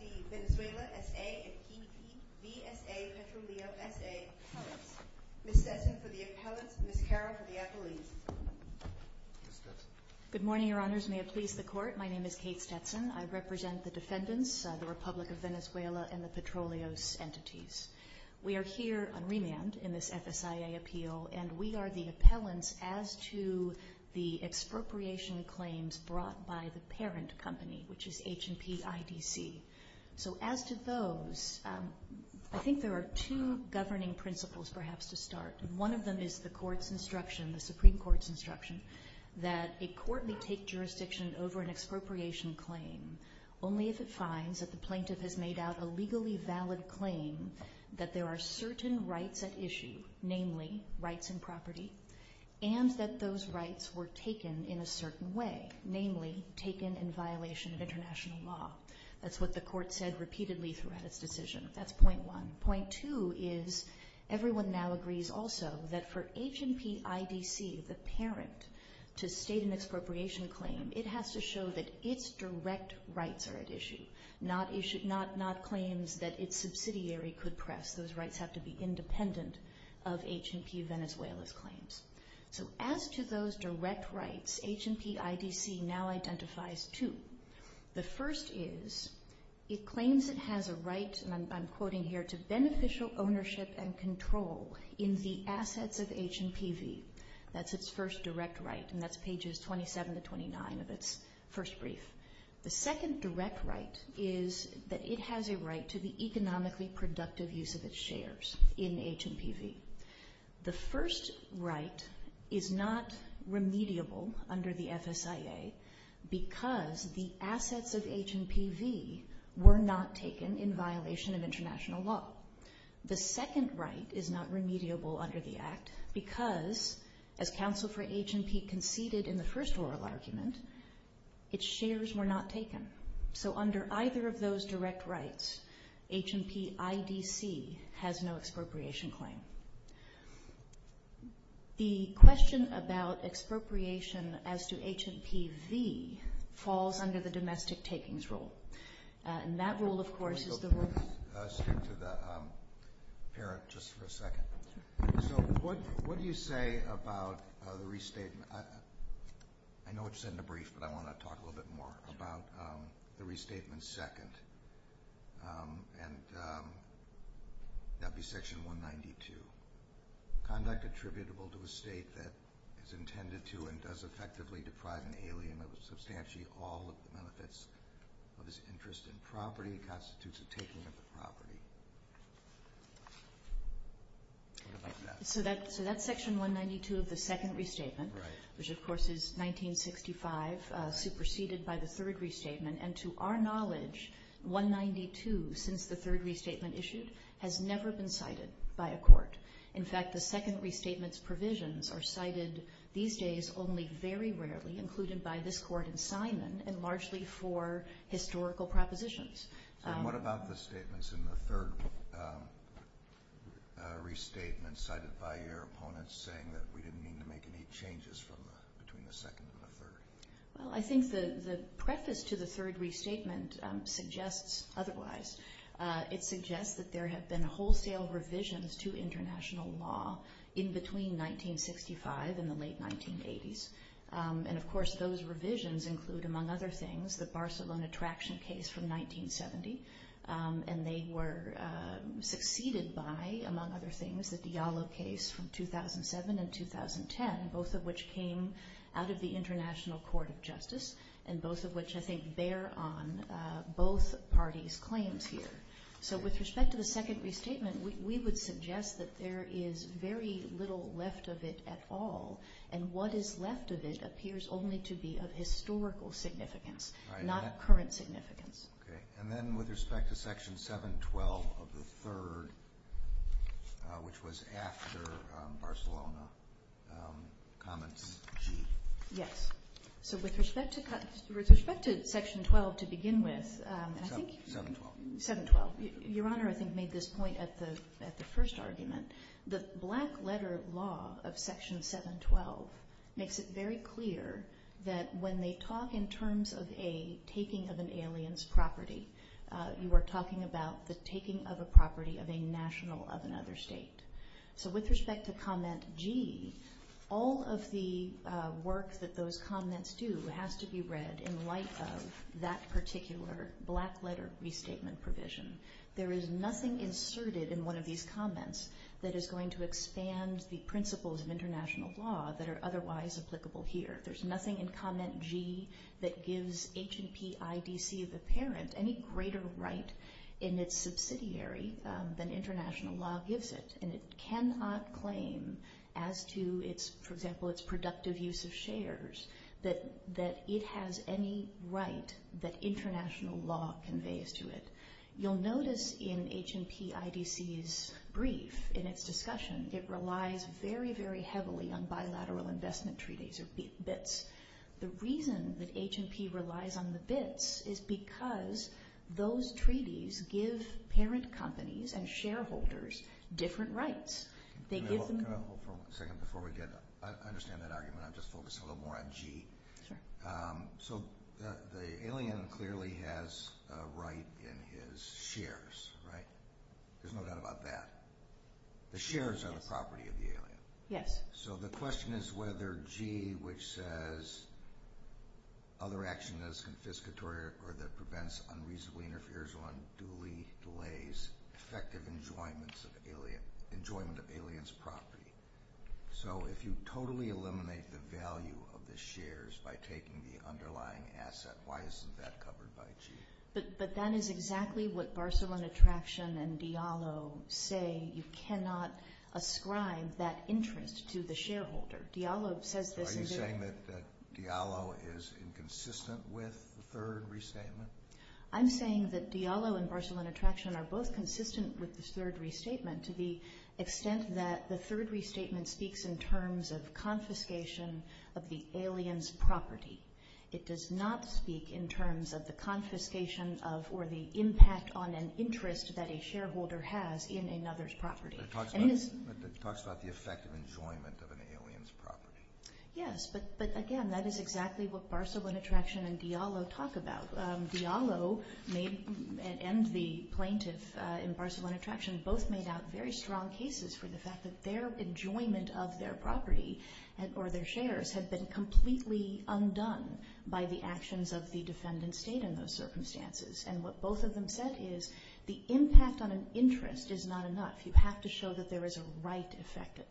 C. Venezuela S.A. & P.C. V.S.A. V.S.A. Ms. Sesson for the Appellate Ms. Carroll for the Appellate Good morning, Your Honors. May it please the Court, my name is Kate Sesson. I represent the defendants, the Republic of Venezuela and the Petroleos entities. We are here on remand in this FSIA appeal, and we are the appellants as to the expropriation claims brought by the parent company, which is H&P IBC. So as to those, I think there are two governing principles, perhaps, to start. One of them is the Supreme Court's instruction that a court may take jurisdiction over an expropriation claim only if it finds that the plaintiff has made out a legally valid claim, that there are certain rights at issue, namely rights and property, and that those rights were taken in a certain way, namely taken in violation of international law. That's what the Court said repeatedly throughout its decision. That's point one. Point two is everyone now agrees also that for H&P IBC, the parent, to state an expropriation claim, it has to show that its direct rights are at issue, not claims that its subsidiary could press. Those rights have to be independent of H&P Venezuela's claims. So as to those direct rights, H&P IBC now identifies two. The first is it claims it has a right, and I'm quoting here, to beneficial ownership and control in the assets of H&PV. That's its first direct right, and that's pages 27 to 29 of its first brief. The second direct right is that it has a right to the economically productive use of its shares in H&PV. The first right is not remediable under the SSIA because the assets of H&PV were not taken in violation of international law. The second right is not remediable under the Act because, as counsel for H&P conceded in the first rule of argument, its shares were not taken. So under either of those direct rights, H&P IBC has no expropriation claim. The question about expropriation as to H&PV falls under the domestic takings rule. And that rule, of course, the rule— Let's turn to the parent just for a second. So what do you say about the restatement? I know it's in the brief, but I want to talk a little bit more about the restatement second, and that would be section 192. I'm not contributable to a state that is intended to and does effectively decry an alien of substantially all of the benefits of its interest in property and constitutes a taking of the property. So that's section 192 of the second restatement, which of course is 1965, superseded by the third restatement. And to our knowledge, 192, since the third restatement issued, has never been cited by a court. In fact, the second restatement's provisions are cited these days only very rarely, included by this court in Simon, and largely for historical propositions. And what about the statements in the third restatement cited by your opponents saying that we didn't mean to make any changes between the second and the third? Well, I think the preface to the third restatement suggests otherwise. It suggests that there have been wholesale revisions to international law in between 1965 and the late 1980s. And of course, those revisions include, among other things, the Barcelona Traction case from 1970, and they were succeeded by, among other things, the Diallo case from 2007 and 2010, both of which came out of the International Court of Justice, and both of which I think bear on both parties' claims here. So with respect to the second restatement, we would suggest that there is very little left of it at all, and what is left of it appears only to be of historical significance, not current significance. Okay, and then with respect to Section 712 of the third, which was after Barcelona, comments to you? Yes. So with respect to Section 712, your Honor, I think made this point at the first argument. The black-letter law of Section 712 makes it very clear that when they talk in terms of a taking of an alien's property, you are talking about the taking of a property of a national of another state. So with respect to Comment G, all of the work that those comments do has to be read in light of that particular black-letter restatement provision. There is nothing inserted in one of these comments that is going to expand the principles of international law that are otherwise applicable here. There's nothing in Comment G that gives H&P IDC of a parent any greater right in its subsidiary than international law gives it, and it cannot claim as to its, for example, its productive use of shares, that it has any right that international law conveys to it. You'll notice in H&P IDC's brief, in its discussion, it relies very, very heavily on bilateral investment treaties, or BITs. The reason that H&P relies on the BITs is because those treaties give parent companies and shareholders different rights. I understand that argument. I'm just focusing a little more on G. So the alien clearly has a right in his shares, right? There's no doubt about that. The shares are the property of the alien. Yes. So the question is whether G, which says, other action that is confiscatory or that prevents unreasonably interferes on duly delays effective enjoyment of the alien's property. So if you totally eliminate the value of the shares by taking the underlying asset, why isn't that covered by G? But that is exactly what Barcelone Attraction and Diallo say. You cannot ascribe that interest to the shareholder. Diallo says that— So are you saying that Diallo is inconsistent with the third restatement? I'm saying that Diallo and Barcelone Attraction are both consistent with the third restatement to the extent that the third restatement speaks in terms of confiscation of the alien's property. It does not speak in terms of the confiscation of or the impact on an interest that a shareholder has in another's property. It talks about the effect of enjoyment of an alien's property. Yes, but again, that is exactly what Barcelone Attraction and Diallo talk about. So Diallo and the plaintiff in Barcelone Attraction both made out very strong cases for the fact that their enjoyment of their property or their shares has been completely undone by the actions of the defendant's state in those circumstances. And what both of them said is the impact on an interest is not enough. You have to show that there is a right effected.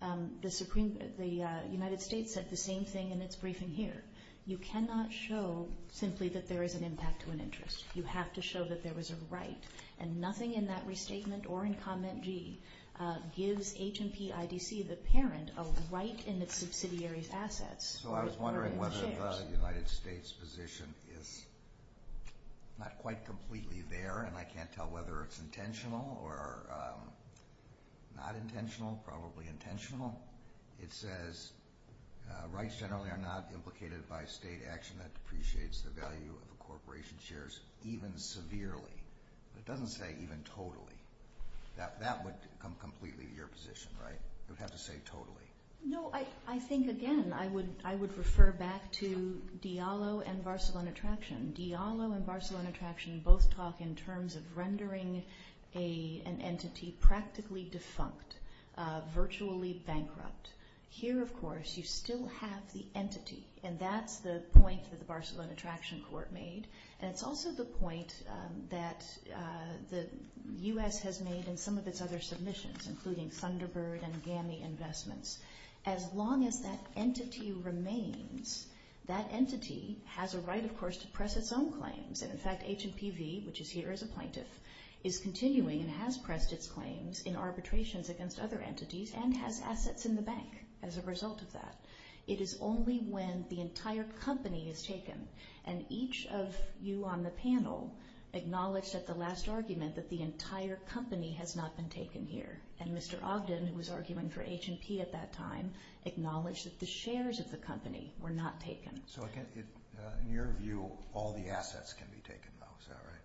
The United States said the same thing in its briefing here. You cannot show simply that there is an impact to an interest. You have to show that there was a right, and nothing in that restatement or in Condiment G gives H&P IDC, the parent, a right in the subsidiary's assets. So I was wondering whether the United States position is not quite completely there, and I can't tell whether it's intentional or not intentional, probably intentional. It says rights generally are not duplicated by state action that depreciates the value of a corporation's shares even severely. It doesn't say even totally. That would come completely to your position, right? You would have to say totally. No, I think, again, I would refer back to Diallo and Barcelona Attraction. Diallo and Barcelona Attraction both talk in terms of rendering an entity practically defunct, virtually bankrupt. Here, of course, you still have the entity, and that's the point that the Barcelona Attraction Court made. It's also the point that the U.S. has made in some of its other submissions, including Thunderbird and GAMI Investments. As long as that entity remains, that entity has a right, of course, to press its own claims. In fact, H&PV, which is here as a plaintiff, is continuing and has pressed its claims in arbitrations against other entities and has assets in the bank as a result of that. It is only when the entire company is taken, and each of you on the panel acknowledged at the last argument that the entire company has not been taken here, and Mr. Ogden, who was arguing for H&P at that time, acknowledged that the shares of the company were not taken. In your view, all the assets can be taken, though, is that right?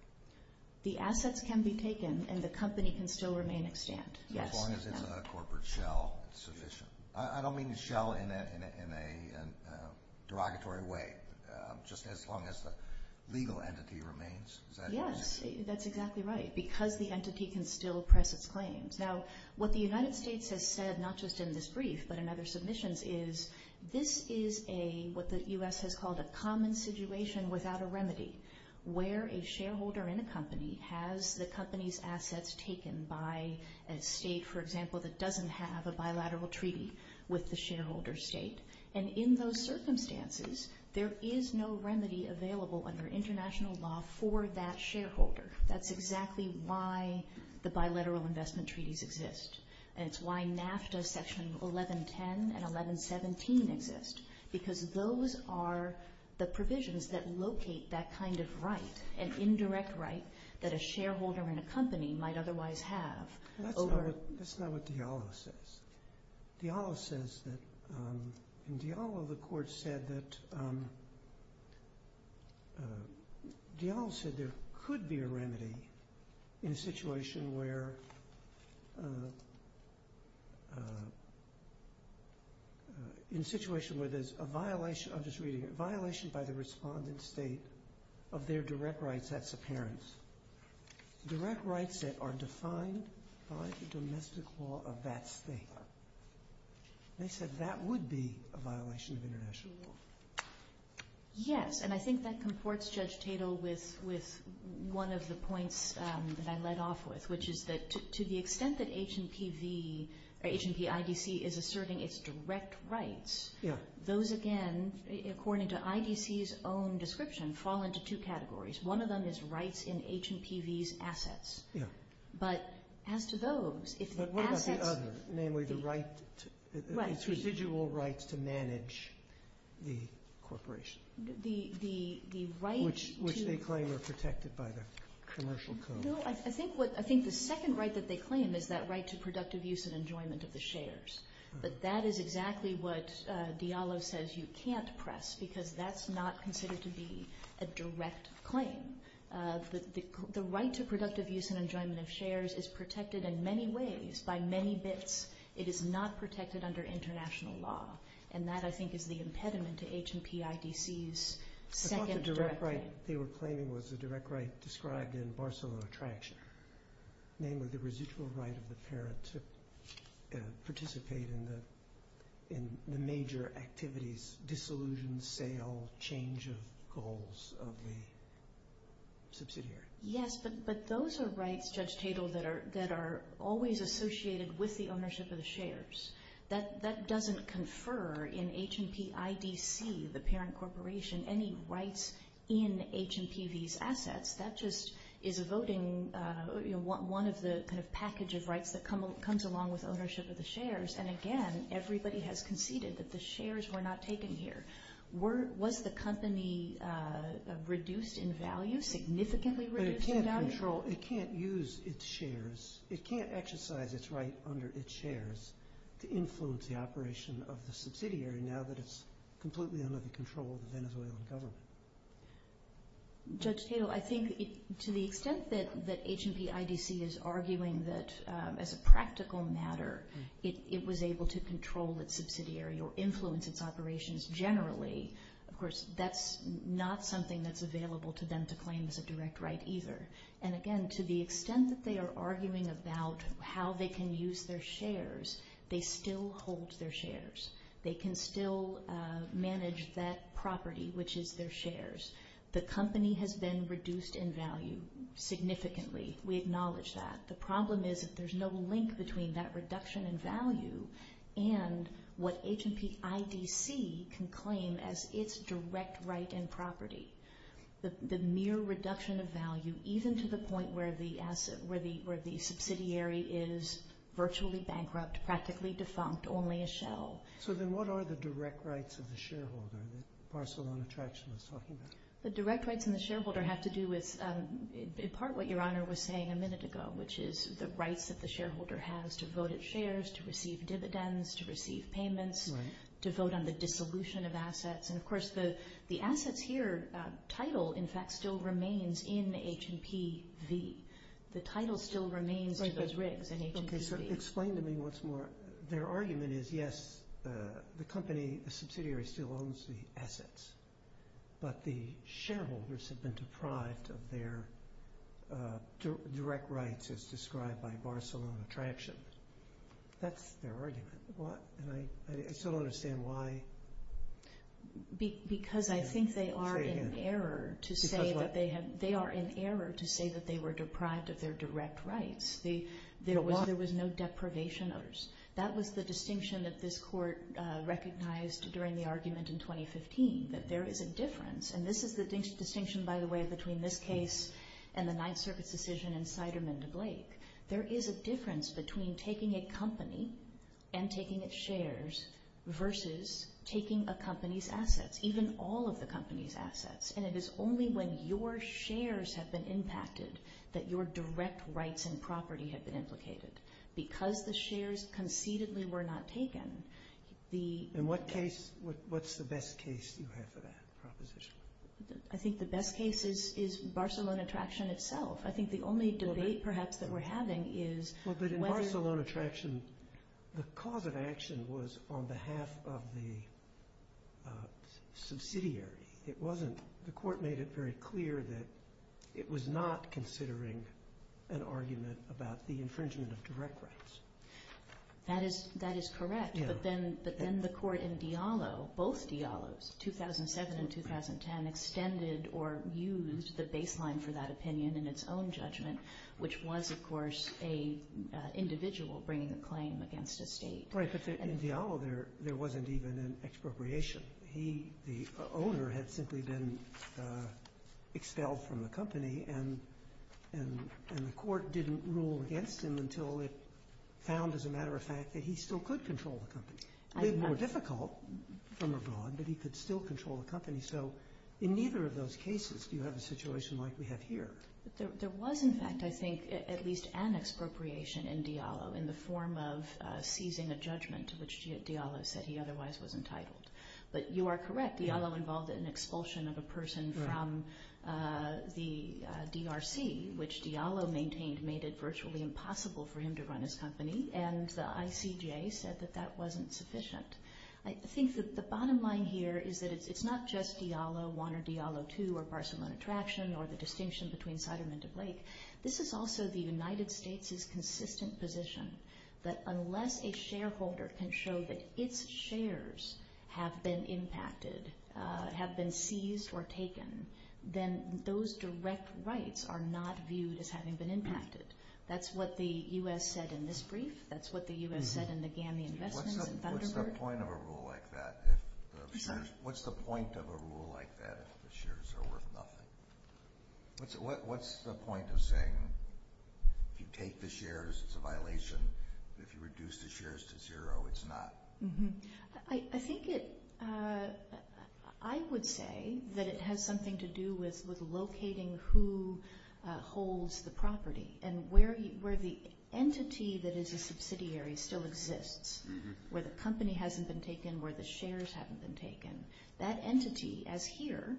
The assets can be taken, and the company can still remain extant, yes. As long as it's not a corporate shell, it's sufficient. I don't mean shell in a derogatory way, just as long as the legal entity remains. Yes, that's exactly right, because the entity can still press its claims. Now, what the United States has said, not just in this brief but in other submissions, is this is what the U.S. has called a common situation without a remedy, where a shareholder in a company has the company's assets taken by a state, for example, that doesn't have a bilateral treaty with the shareholder state, and in those circumstances, there is no remedy available under international law for that shareholder. That's exactly why the bilateral investment treaties exist, and it's why NAFTA Section 1110 and 1117 exist, because those are the provisions that locate that kind of right, an indirect right that a shareholder in a company might otherwise have. That's not what Diallo says. Diallo says that there could be a remedy in a situation where there's a violation by the respondent state of their direct rights, that's appearance. Direct rights that are defined by the domestic law of that state. They said that would be a violation of international law. Yes, and I think that conforts Judge Tatel with one of the points that I led off with, which is that to the extent that H&P IDC is asserting its direct rights, those again, according to IDC's own description, fall into two categories. One of them is rights in H&PV's assets, but as to those... But what about the other, namely the residual rights to manage the corporation, which they claim are protected by the Commercial Code? No, I think the second right that they claim is that right to productive use and enjoyment of the shares, but that is exactly what Diallo says you can't press because that's not considered to be a direct claim. The right to productive use and enjoyment of shares is protected in many ways by many bits. It is not protected under international law, and that I think is the impediment to H&P IDC's second... The second direct right they were claiming was a direct right described in Barcelona Tract, namely the residual right of the parent to participate in the major activities, disillusion, sale, change of goals of the subsidiary. Yes, but those are rights, Judge Tatel, that are always associated with the ownership of the shares. That doesn't confer in H&P IDC, the parent corporation, any rights in H&PV's assets. That just is voting one of the packages rights that comes along with ownership of the shares, and again, everybody has conceded that the shares were not taken here. Was the company reduced in value, significantly reduced in value? It can't control, it can't use its shares, it can't exercise its right under its shares to influence the operation of the subsidiary now that it's completely under the control of the Venezuelan government. Judge Tatel, I think to the extent that H&P IDC is arguing that as a practical matter, it was able to control its subsidiary or influence its operations generally, of course, that's not something that's available to them to claim as a direct right either. And again, to the extent that they are arguing about how they can use their shares, they still hold their shares. They can still manage that property, which is their shares. The company has been reduced in value significantly. We acknowledge that. The problem is that there's no link between that reduction in value and what H&P IDC can claim as its direct right and property. The mere reduction of value, even to the point where the subsidiary is virtually bankrupt, practically defunct, only a shell. So then what are the direct rights of the shareholder that Marcelon Attraction was talking about? The direct rights of the shareholder have to do with, in part, what Your Honor was saying a minute ago, which is the right that the shareholder has to vote its shares, to receive dividends, to receive payments, to vote on the dissolution of assets. And, of course, the assets here, title, in fact, still remains in H&P V. The title still remains in H&P V. Explain to me once more, their argument is, yes, the company, the subsidiary still owns the assets, but the shareholders have been deprived of their direct rights as described by Marcelon Attraction. That's their argument. I still don't understand why. Because I think they are in error to say that they were deprived of their direct rights. There was no deprivation of theirs. That was the distinction that this Court recognized during the argument in 2015, that there is a difference. And this is the distinction, by the way, between this case and the Ninth Circuit decision in Siderman v. Blake. There is a difference between taking a company and taking its shares versus taking a company's assets, even all of the company's assets. And it is only when your shares have been impacted that your direct rights and property have been implicated. Because the shares concededly were not taken, the... In what case, what's the best case you have for that proposition? I think the best case is Marcelon Attraction itself. I think the only debate, perhaps, that we're having is... Well, but in Marcelon Attraction, the cause of action was on behalf of the subsidiary. The Court made it very clear that it was not considering an argument about the infringement of direct rights. That is correct, but then the Court in Diallo, both Diallos, 2007 and 2010, extended or used the baseline for that opinion in its own judgment, which was, of course, an individual bringing a claim against a state. In Diallo, there wasn't even an expropriation. The owner had simply been expelled from the company, and the Court didn't rule against him until it found, as a matter of fact, that he still could control the company. It was more difficult from abroad, but he could still control the company. So in neither of those cases do you have a situation like we have here. There was, in fact, I think, at least an expropriation in Diallo in the form of seizing a judgment to which Diallo said he otherwise was entitled. But you are correct. Diallo involved an expulsion of a person from the DRC, which Diallo maintained made it virtually impossible for him to run his company, and the ICGA said that that wasn't sufficient. I think that the bottom line here is that it's not just Diallo I or Diallo II or Marcelon Attraction or the distinction between Fideman and Blake. This is also the United States' consistent position that unless a shareholder can show that its shares have been impacted, have been seized or taken, then those direct rights are not viewed as having been impacted. That's what the U.S. said in this brief. That's what the U.S. said in the GAMI investment. What's the point of a rule like that? What's the point of a rule like that if the shares are worth nothing? What's the point of saying you take the shares, it's a violation, if you reduce the shares to zero, it's not? I think I would say that it has something to do with locating who holds the property and where the entity that is your subsidiary still exists, where the company hasn't been taken, where the shares haven't been taken. That entity, as here,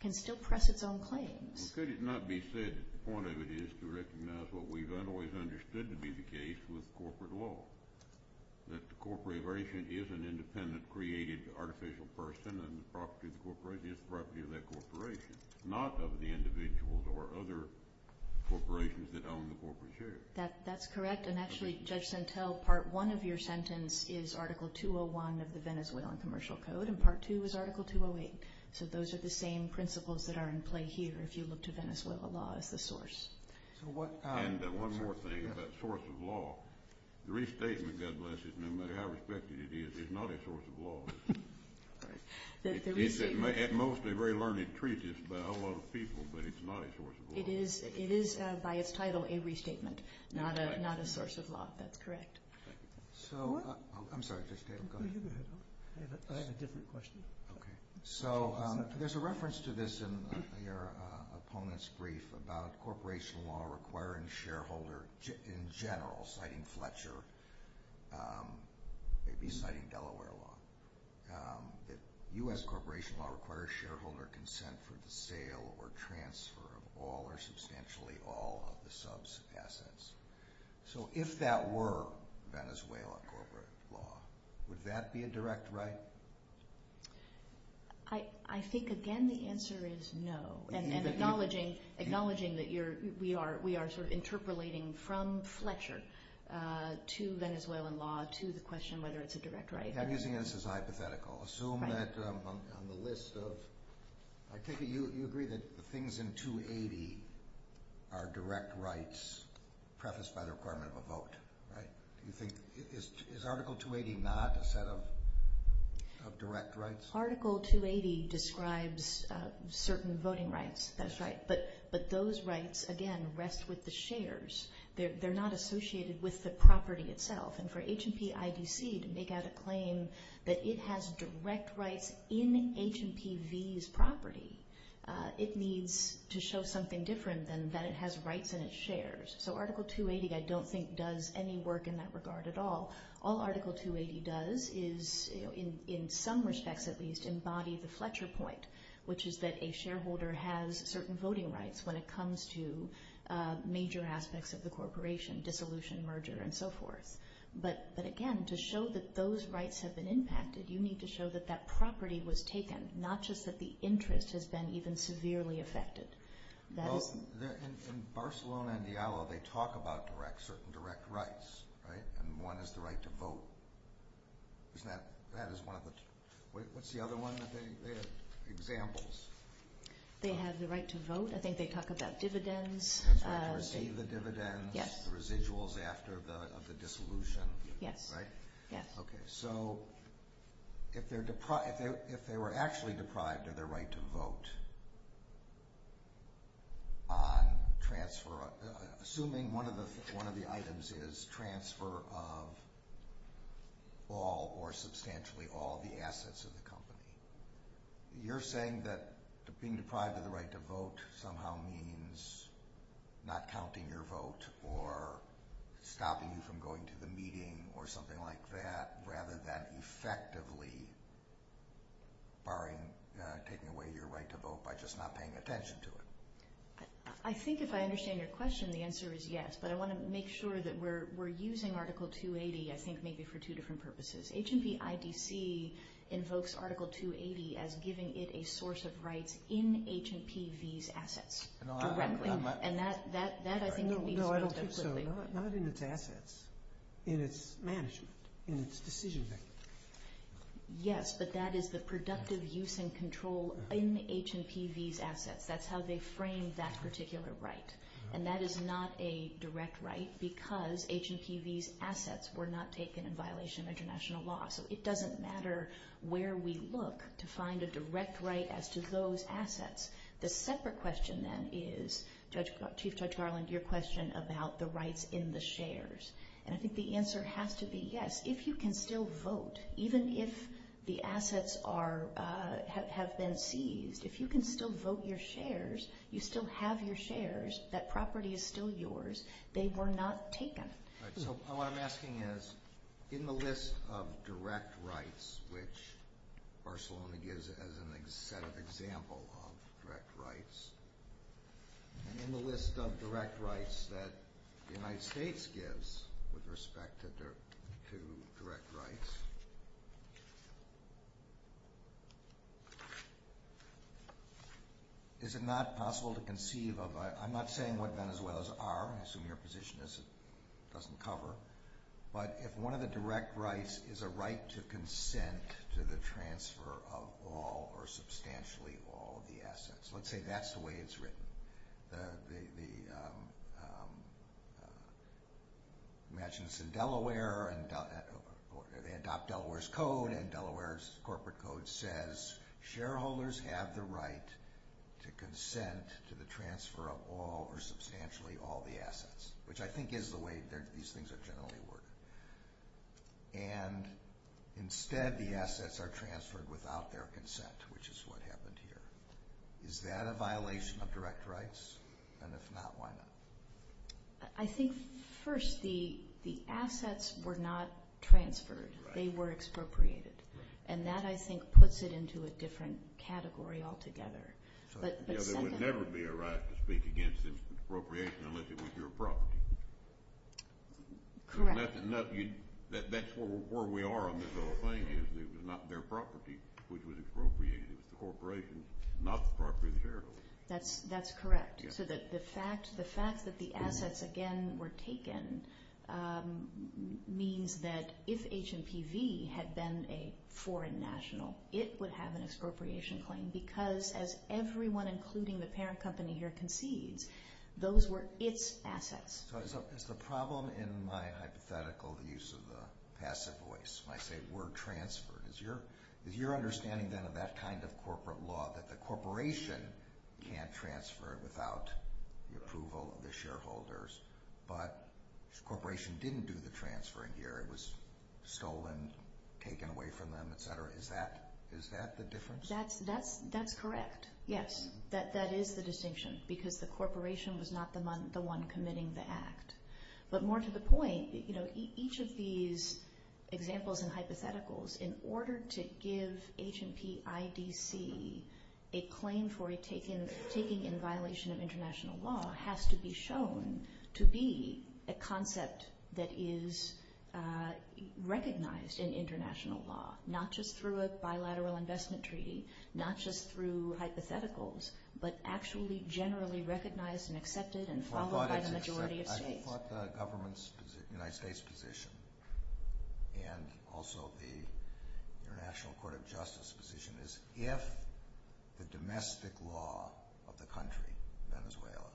can still press its own claims. Well, could it not be said that the point of it is to recognize what we've always understood to be the case with corporate law, that the corporation is an independent, created, artificial person and the property of the corporation is the property of that corporation, not of the individuals or other corporations that own the corporate shares? That's correct, and actually, Judge Chantel, Part 1 of your sentence is Article 201 of the Venezuelan Commercial Code, and Part 2 is Article 208. So those are the same principles that are in play here. If you look to Venezuela, the law is the source. And one more thing about source of law. The restatement, God bless it, no matter how respected it is, is not a source of law. It's mostly very learned and treated by a whole lot of people, but it's not a source of law. It is, by its title, a restatement, not a source of law. That's correct. So, I'm sorry, I have a different question. Okay, so there's a reference to this in your opponent's brief about corporation law requiring a shareholder in general, citing Fletcher, maybe citing Delaware law, that U.S. corporation law requires shareholder consent for the sale or transfer of all or substantially all of the subs of assets. So if that were Venezuelan corporate law, would that be a direct right? I think, again, the answer is no, and acknowledging that we are sort of interpolating from Fletcher to Venezuelan law to the question whether it's a direct right. I'm using it as hypothetical. Assume that on the list of, I take it you agree that the things in 280 are direct rights prefaced by the Department of Vote, right? Do you think, is Article 280 not a set of direct rights? Article 280 describes certain voting rights. That's right. But those rights, again, rest with the shares. They're not associated with the property itself. And for H&P IDC to make out a claim that it has direct rights in H&P V's property, it needs to show something different than that it has rights and it shares. So Article 280, I don't think, does any work in that regard at all. All Article 280 does is, in some respects at least, embody the Fletcher point, which is that a shareholder has certain voting rights when it comes to major aspects of the corporation, dissolution, merger, and so forth. But, again, to show that those rights have been impacted, you need to show that that property was taken, not just that the interest has been even severely affected. In Barcelona and Diallo, they talk about certain direct rights. Right? And one is the right to vote. Isn't that one? What's the other one that they have? Examples. They have the right to vote. I think they talk about dividends. Receive the dividends. Yes. The residuals after the dissolution. Yes. Right? Yes. Okay. So if they were actually deprived of their right to vote on transfer, assuming one of the items is transfer of all or substantially all the assets of the company, you're saying that being deprived of the right to vote somehow means not counting your vote or stopping you from going to the meeting or something like that, rather than effectively taking away your right to vote by just not paying attention to it. I think if I understand your question, the answer is yes. But I want to make sure that we're using Article 280, I think, maybe for two different purposes. H&P IDC invokes Article 280 as giving it a source of rights in H&P V's assets. No, I don't think so. Not in its assets. In its management. In its decision-making. Yes, but that is the productive use and control in H&P V's assets. That's how they frame that particular right. And that is not a direct right because H&P V's assets were not taken in violation of international law. So it doesn't matter where we look to find a direct right as to those assets. The separate question, then, is, Chief Judge Garland, your question about the rights in the shares. And I think the answer has to be yes. If you can still vote, even if the assets have been seized, if you can still vote your shares, you still have your shares. That property is still yours. They were not taken. So what I'm asking is, in the list of direct rights, which Barcelona gives as an example of direct rights, in the list of direct rights that the United States gives with respect to direct rights, is it not possible to conceive of, I'm not saying what Venezuela's are, I assume your position is it doesn't cover, but if one of the direct rights is a right to consent to the transfer of all or substantially all of the assets. Let's say that's the way it's written. Imagine this in Delaware. They adopt Delaware's code, and Delaware's corporate code says, shareholders have the right to consent to the transfer of all or substantially all the assets, which I think is the way these things generally work. And instead, the assets are transferred without their consent, which is what happened here. Is that a violation of direct rights? And if not, why not? I think, first, the assets were not transferred. They were expropriated. And that, I think, puts it into a different category altogether. There would never be a right to speak against expropriation unless it was your property. Correct. That's where we are on this whole claim. It was not their property which was expropriated. It was the corporation, not the property of the shareholders. That's correct. So the fact that the assets, again, were taken means that if HMPV had been a foreign national, it would have an expropriation claim because, as everyone, including the parent company here, conceived, those were its assets. So is the problem in my hypothetical use of the asset voice, like they were transferred, is your understanding then of that kind of corporate law, that the corporation can't transfer without the approval of the shareholders, but the corporation didn't do the transferring here. It was stolen, taken away from them, et cetera. Is that the difference? That's correct. Yes, that is the distinction because the corporation was not the one committing the act. But more to the point, you know, each of these examples and hypotheticals, in order to give HMPIDC a claim for taking in violation of international law, has to be shown to be a concept that is recognized in international law, not just through a bilateral investment treaty, not just through hypotheticals, but actually generally recognized and accepted and followed by the majority of states. I think what the United States position and also the International Court of Justice position is, if the domestic law of the country, Venezuela,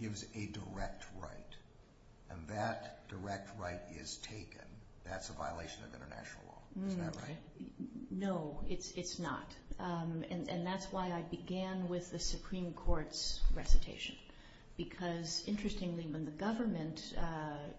gives a direct right and that direct right is taken, that's a violation of international law. Is that right? No, it's not. And that's why I began with the Supreme Court's recitation. Because, interestingly, when the government,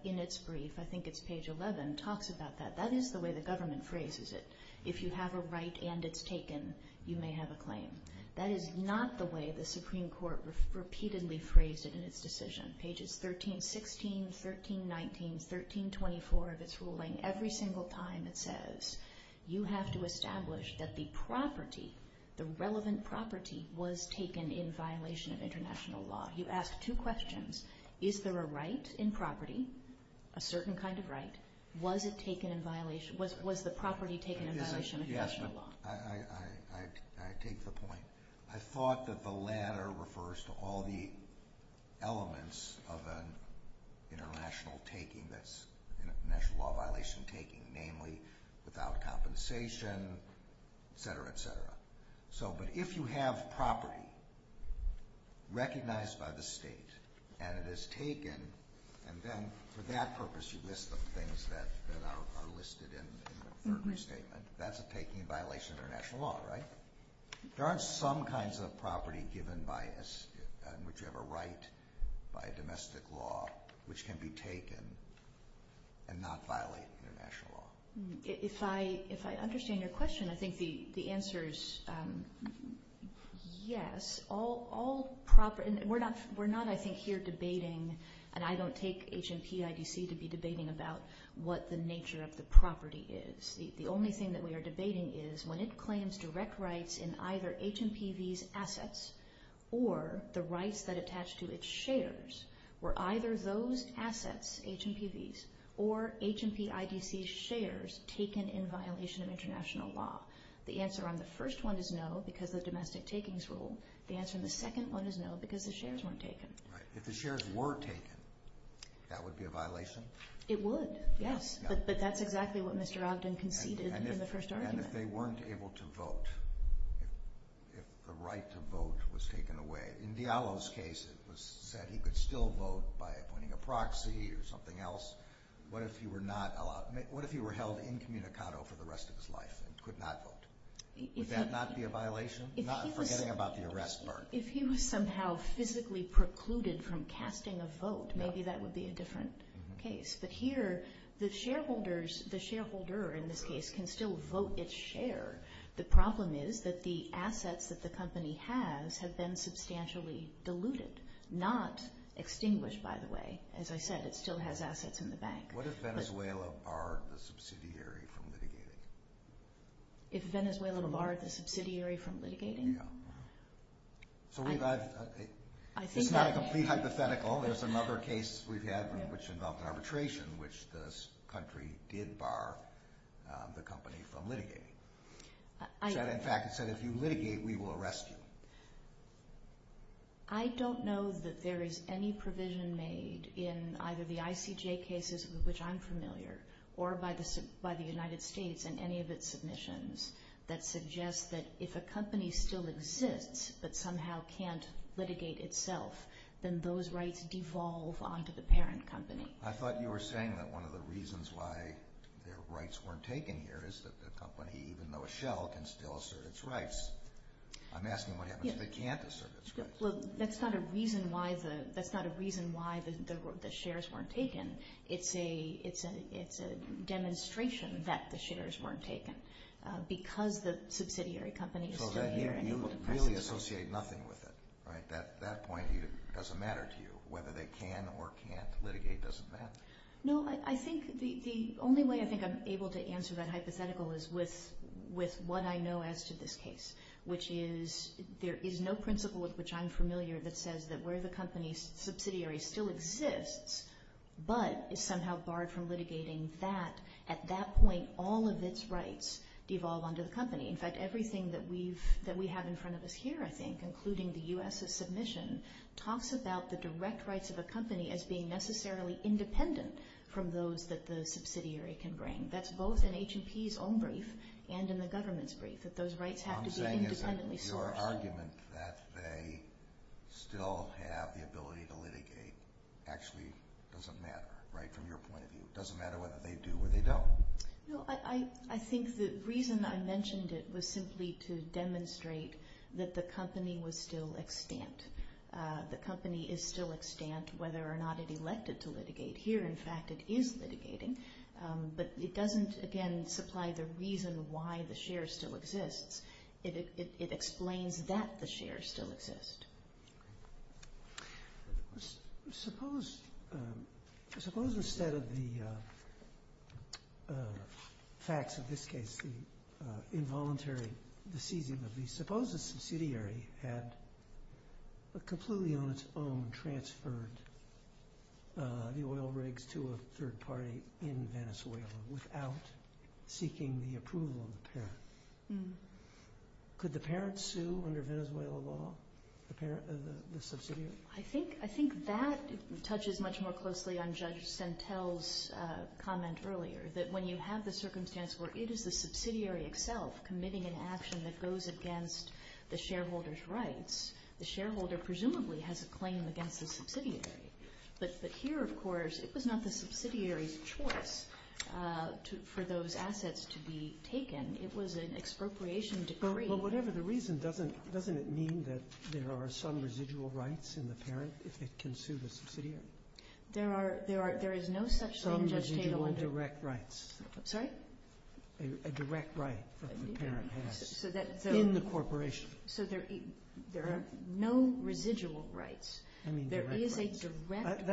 in its brief, I think it's page 11, talks about that, that is the way the government phrases it. If you have a right and it's taken, you may have a claim. That is not the way the Supreme Court repeatedly phrased it in its decision. Pages 13, 16, 13, 19, 13, 24 of its ruling, every single time it says, you have to establish that the property, the relevant property, was taken in violation of international law. You ask two questions. Is there a right in property, a certain kind of right? Was it taken in violation, was the property taken in violation of international law? Yes, I take the point. I thought that the latter refers to all the elements of an international taking, an international law violation taking, namely, without compensation, et cetera, et cetera. But if you have property recognized by the state and it is taken, and then for that purpose you list the things that are listed in the statement, that's a taking in violation of international law, right? There are some kinds of property given in whichever right by domestic law which can be taken and not violate international law. If I understand your question, I think the answer is yes. We're not, I think, here debating, and I don't take HMP, IDC to be debating about what the nature of the property is. The only thing that we are debating is when it claims direct rights in either HMPV's assets or the rights that attach to its shares, were either those assets, HMPV's or HMP, IDC's shares, taken in violation of international law? The answer on the first one is no because of the domestic takings rule. The answer on the second one is no because the shares weren't taken. It would, yes, but that's exactly what Mr. Ogden conceded in the first argument. And if they weren't able to vote, if the right to vote was taken away, in Diallo's case it was said he could still vote by appointing a proxy or something else, what if he were held incommunicado for the rest of his life and could not vote? Would that not be a violation? Not forgetting about the arrest part. If he was somehow physically precluded from casting a vote, maybe that would be a different case. But here the shareholders, the shareholder in this case, can still vote its share. The problem is that the assets that the company has have been substantially diluted, not extinguished by the way. As I said, it still has assets in the bank. What if Venezuela are the subsidiary from litigating? If Venezuela are the subsidiary from litigating? It's not a complete hypothetical. There's another case we've had which involved arbitration, which this country did bar the company from litigating. In fact, it said if you litigate, we will arrest you. I don't know that there is any provision made in either the ICJ cases, which I'm familiar, or by the United States in any of its submissions, that suggests that if a company still exists but somehow can't litigate itself, then those rights devolve onto the parent company. I thought you were saying that one of the reasons why their rights weren't taken here is that the company, even though it shall, can still assert its rights. I'm asking what happens if it can't assert its rights. That's not a reason why the shares weren't taken. It's a demonstration that the shares weren't taken. Because the subsidiary company is still here. So at that point, you really associate nothing with it, right? At that point, it doesn't matter to you whether they can or can't litigate. It doesn't matter. No, I think the only way I think I'm able to answer that hypothetical is with what I know as to this case, which is there is no principle of which I'm familiar that says that where the company's subsidiary still exists but is somehow barred from litigating that, at that point, all of its rights devolve onto the company. In fact, everything that we have in front of us here, I think, including the U.S.'s submission, talks about the direct rights of a company as being necessarily independent from those that the subsidiary can bring. That's both in H&P's own brief and in the government's brief, that those rights have to be independently sought. So our argument that they still have the ability to litigate actually doesn't matter, right, from your point of view. It doesn't matter what they do or they don't. No, I think the reason I mentioned it was simply to demonstrate that the company was still extant. The company is still extant whether or not it elected to litigate. Here, in fact, it is litigating, but it doesn't, again, supply the reason why the shares still exist. It explains that the shares still exist. Suppose instead of the facts of this case, the involuntary decision of the, suppose a subsidiary had completely on its own transferred the oil rigs to a third party in Venezuela without seeking the approval of the parent. Could the parent sue under Venezuelan law, the subsidiary? I think that touches much more closely on Judge Sentel's comment earlier, that when you have the circumstance where it is the subsidiary itself committing an action that goes against the shareholder's rights, the shareholder presumably has a claim against the subsidiary. But here, of course, it was not the subsidiary's choice for those assets to be taken. It was an expropriation decree. Well, whatever the reason, doesn't it mean that there are some residual rights in the parent if it can sue the subsidiary? There is no such thing, Judge Sentel. Some residual direct rights. Sorry? A direct right that the parent has in the corporation. So there are no residual rights. There is a direct right,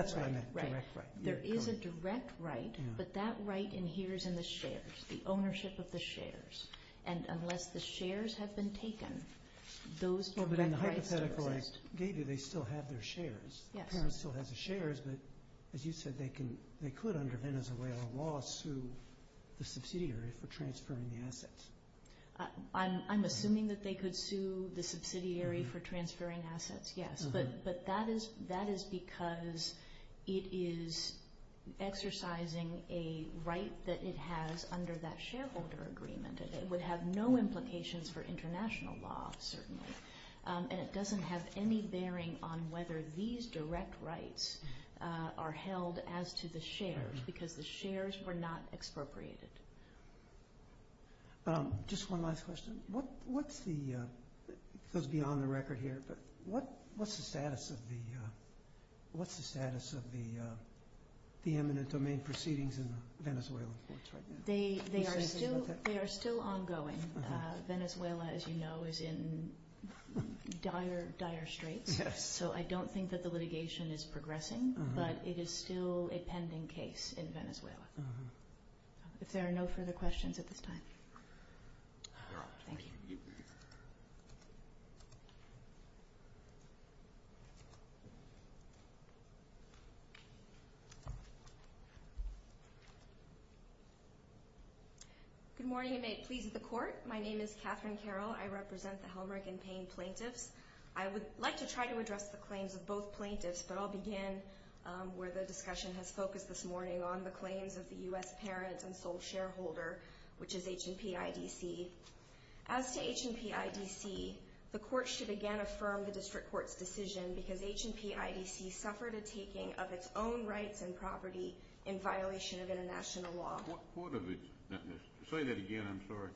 but that right inheres in the shares, the ownership of the shares. And unless the shares have been taken, those direct rights are lost. Maybe they still have their shares. The parent still has the shares, but as you said, they could under Venezuelan law sue the subsidiary for transferring the assets. I'm assuming that they could sue the subsidiary for transferring assets, yes. But that is because it is exercising a right that it has under that shareholder agreement. It would have no implications for international law, certainly. And it doesn't have any bearing on whether these direct rights are held as to the shares because the shares were not expropriated. Just one last question. It goes beyond the record here, but what is the status of the eminent domain proceedings in Venezuela? They are still ongoing. Venezuela, as you know, is in dire, dire straits. So I don't think that the litigation is progressing, but it is still a pending case in Venezuela. If there are no further questions at this time. Thank you. Good morning and may it please the Court. My name is Catherine Carroll. I represent the Helmreich and Payne plaintiffs. I would like to try to address the claims of both plaintiffs, but I'll begin where the discussion has focused this morning on the claims of the U.S. parent and sole shareholder, which is H&P IDC. As to H&P IDC, the Court should again affirm the district court's decision because H&P IDC suffered a taking of its own rights and property in violation of international law. What part of it? Say that again. I'm sorry.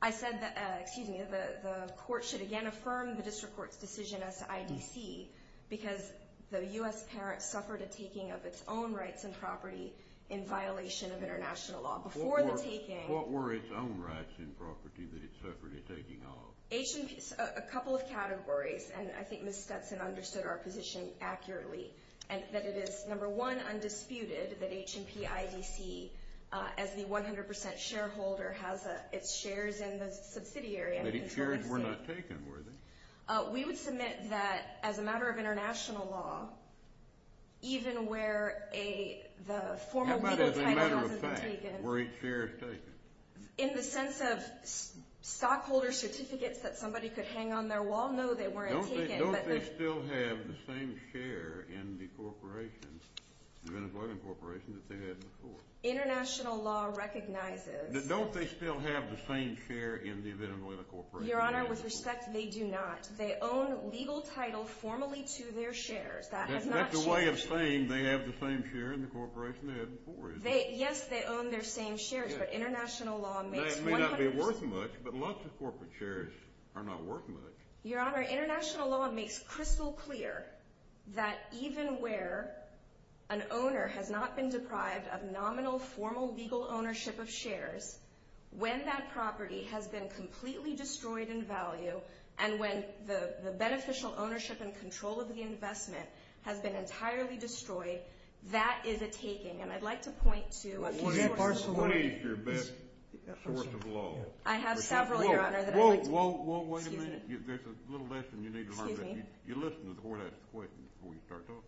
I said that the Court should again affirm the district court's decision as to IDC because the U.S. parent suffered a taking of its own rights and property in violation of international law. Before the taking… What were its own rights and property that it suffered a taking of? A couple of categories, and I think Ms. Stetson understood our position accurately. And that it is, number one, undisputed that H&P IDC, as the 100% shareholder, has its shares in the subsidiary. But its shares were not taken, were they? We would submit that, as a matter of international law, even where the former… No, but as a matter of fact, were its shares taken? In the sense of stockholder certificates that somebody could hang on their wall, no, they weren't taken. Don't they still have the same share in the corporations, the Venezuelan corporations, that they had before? International law recognizes… Don't they still have the same share in the Venezuelan corporations? Your Honor, with respect, they do not. They own legal title formally to their shares. That's a way of saying they have the same share in the corporation they had before. Yes, they own their same shares, but international law… It may not be worth much, but lots of corporate shares are not worth much. Your Honor, international law makes crystal clear that even where an owner has not been deprived of nominal, formal, legal ownership of shares, when that property has been completely destroyed in value, and when the beneficial ownership and control of the investment has been entirely destroyed, that is a taking, and I'd like to point to… What is your best source of law? I have several, Your Honor. Whoa, whoa, whoa, wait a minute. There's a little lesson you need to learn. Excuse me? You listen before I ask the question, before we start talking.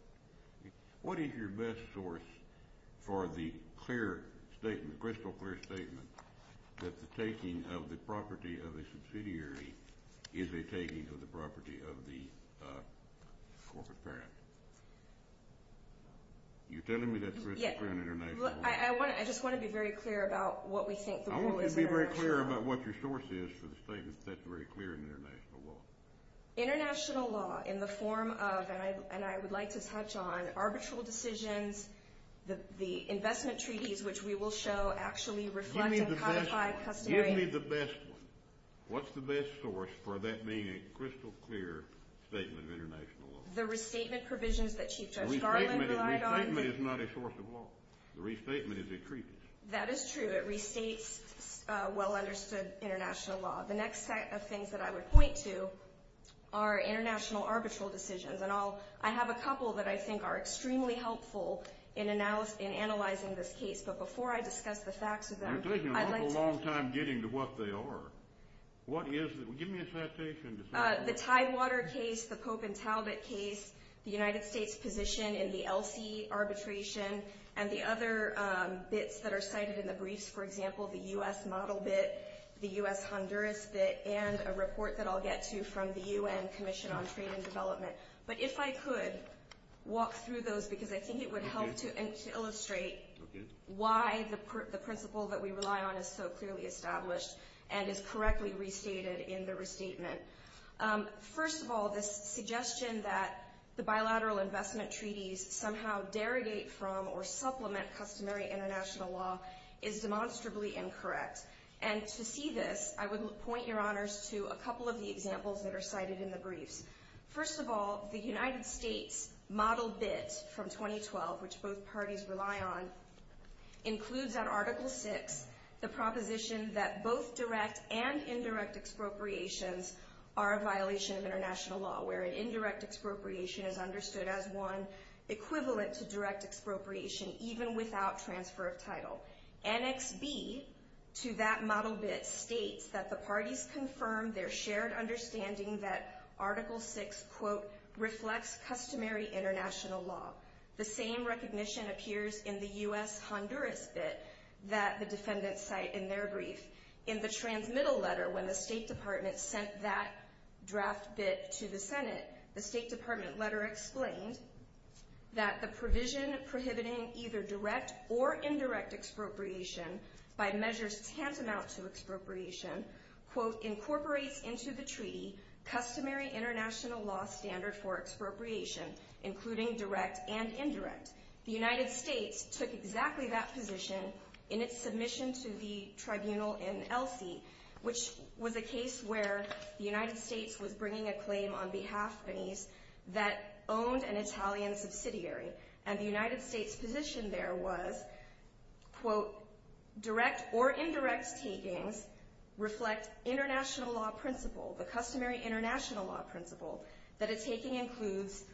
What is your best source for the clear statement, crystal clear statement, that the taking of the property of a subsidiary is a taking of the property of the corporate branch? You're telling me that's crystal clear in international law? Yes. I just want to be very clear about what we think the rule is in our… I want you to be very clear about what your source is for the statement that's very clear in international law. International law in the form of, and I would like to touch on, arbitral decisions, the investment treaties, which we will show actually reflect… Give me the best one. What's the best source for that being a crystal clear statement in international law? The restatement provisions that Chief Judge Garland relied on… Restatement is not a source of law. Restatement is a treatment. That is true. It restates well-understood international law. The next set of things that I would point to are international arbitral decisions. And I have a couple that I think are extremely helpful in analyzing this case. But before I discuss the facts of them… You're taking a long time getting to what they are. What is it? Give me a citation. The Tidewater case, the Pope and Talbot case, the United States' position in the ELSI arbitration, and the other bits that are cited in the brief, for example, the U.S. model bit, the U.S. Honduras bit, and a report that I'll get to from the UN Commission on Freedom of Development. But if I could walk through those, because I think it would help to illustrate why the principle that we rely on is so clearly established and is correctly restated in the restatement. First of all, the suggestion that the bilateral investment treaties somehow derogate from or supplement customary international law is demonstrably incorrect. And to see this, I would point your honors to a couple of the examples that are cited in the brief. First of all, the United States model bit from 2012, which both parties rely on, includes in Article VI the proposition that both direct and indirect expropriations are a violation of international law, where an indirect expropriation is understood as one equivalent to direct expropriation, even without transfer of title. Annex B to that model bit states that the parties confirm their shared understanding that Article VI, quote, the U.S. Honduras bit that the defendants cite in their brief. In the transmittal letter, when the State Department sent that draft bit to the Senate, the State Department letter explained that the provision prohibiting either direct or indirect expropriation by measures tantamount to expropriation, quote, incorporates into the treaty customary international law standard for expropriation, including direct and indirect. The United States took exactly that position in its submission to the tribunal in Elsie, which was a case where the United States was bringing a claim on behalf of the Spanish that owned an Italian subsidiary. And the United States' position there was, quote, direct or indirect taking reflects international law principle, the customary international law principle that a taking includes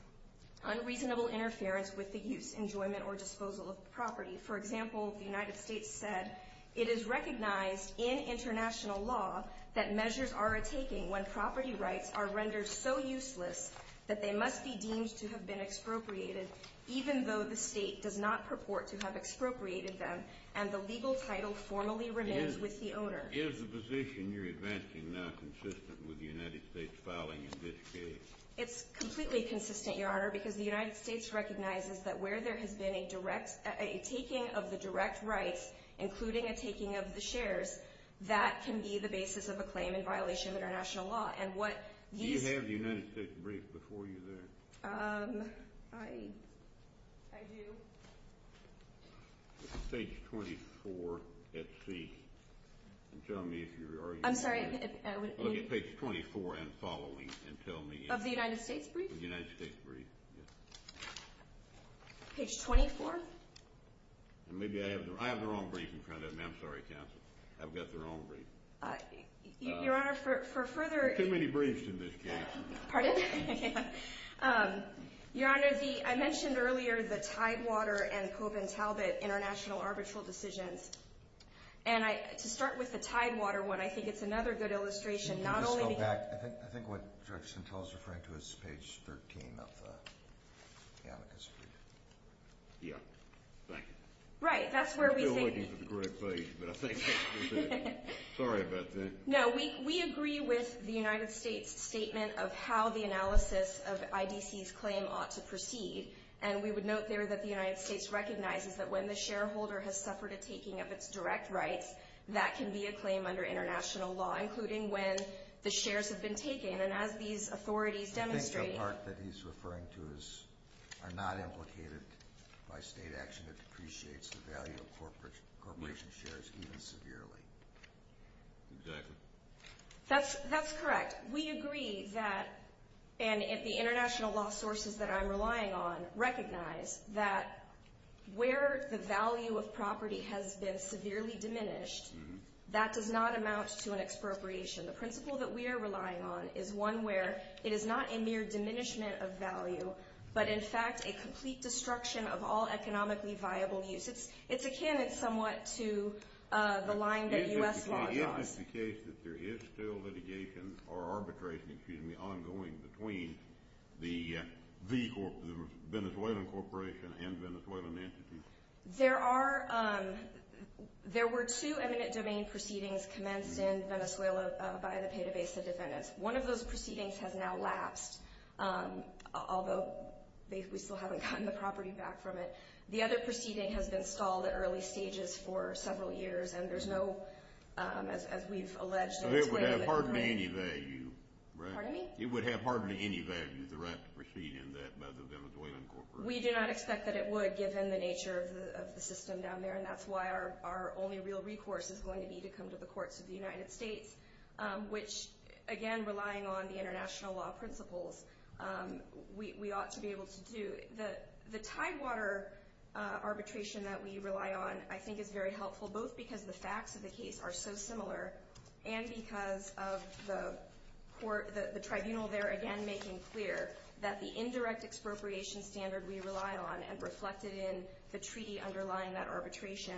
unreasonable interference with the use, enjoyment, or disposal of property. For example, the United States said it is recognized in international law that measures are a taking when property rights are rendered so useless that they must be deemed to have been expropriated, even though the state does not purport to have expropriated them and the legal title formally remains with the owner. Is the position you're advancing now consistent with the United States' filing in this case? It's completely consistent, Your Honor, because the United States recognizes that where there has been a taking of the direct rights, including a taking of the shares, that can be the basis of a claim in violation of international law. Do you have the United States brief before you there? I do. Page 24 at C. I'm sorry. Page 24 and follow me and tell me. Of the United States brief? The United States brief, yes. Page 24? I have their own brief in front of me. I'm sorry, counsel. I've got their own brief. Your Honor, for further... Too many briefs in this case. Pardon? Your Honor, I mentioned earlier the Tidewater and Covent Talbot international arbitral decisions, and to start with the Tidewater one, I think it's another good illustration, not only... Can we just go back? I think what Director Santel is referring to is page 13 of the amicus. Yeah, thank you. Right, that's where we think... We're still waiting for the correct page, but I think... Sorry about that. No, we agree with the United States statement of how the analysis of IDC's claim ought to proceed, and we would note there that the United States recognizes that when the shareholder has suffered a taking of its direct rights, that can be a claim under international law, including when the shares have been taken, and as these authorities demonstrated... I think the part that he's referring to are not implicated by state action that depreciates the value of corporation shares even severely. Exactly. That's correct. We agree that, and the international law sources that I'm relying on recognize, that where the value of property has been severely diminished, that does not amount to an expropriation. The principle that we are relying on is one where it is not a mere diminishment of value, but in fact a complete destruction of all economically viable uses. It's a candidate somewhat to the line that you asked me about. Is it the case that there is still litigation or arbitration, excuse me, ongoing between the Venezuelan corporation and Venezuelan entities? There were two eminent domain proceedings commenced in Venezuela by the databases in Venice. One of those proceedings has now lapsed, although they still haven't gotten the property back from it. The other proceeding has been solved at early stages for several years, and there's no, as we've alleged... It would have hardly any value, right? Pardon me? It would have hardly any value, the right to proceed in that measure of the Venezuelan corporation. We did not expect that it would, given the nature of the system down there, and that's why our only real recourse is going to be to come to the courts of the United States, which, again, relying on the international law principles, we ought to be able to do. The Tidewater arbitration that we rely on, I think, is very helpful, both because the facts of the case are so similar and because of the court, the tribunal there, again, making clear that the indirect expropriation standard we rely on and reflected in the treaty underlying that arbitration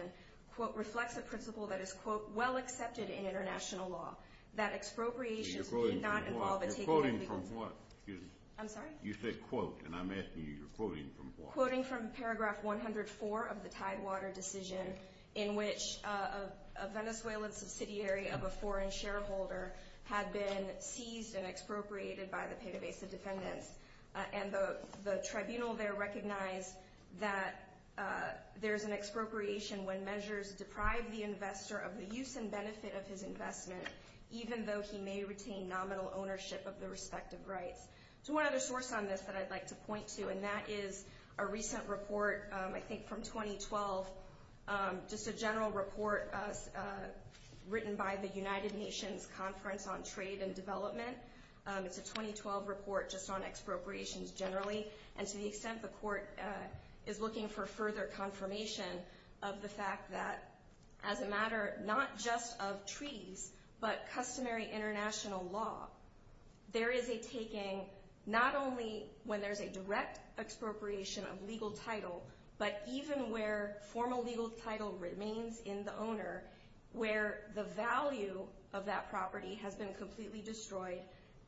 reflects a principle that is, quote, well accepted in international law, that expropriation should not involve... You're quoting from what? I'm sorry? You said quote, and I'm asking you, you're quoting from what? Quoting from paragraph 104 of the Tidewater decision in which a Venezuelan subsidiary of a foreign shareholder had been seized and expropriated by the Pegasus defendants, and the tribunal there recognized that there's an expropriation when measures deprive the investor of the use and benefit of his investment, even though he may retain nominal ownership of the respective rights. So one other source on this that I'd like to point to, and that is a recent report, I think from 2012, just a general report written by the United Nations Conference on Trade and Development. It's a 2012 report just on expropriations generally, and to the extent the court is looking for further confirmation of the fact that as a matter not just of treaties but customary international law, there is a taking not only when there's a direct expropriation of legal title, but even where formal legal title remains in the owner, where the value of that property has been completely destroyed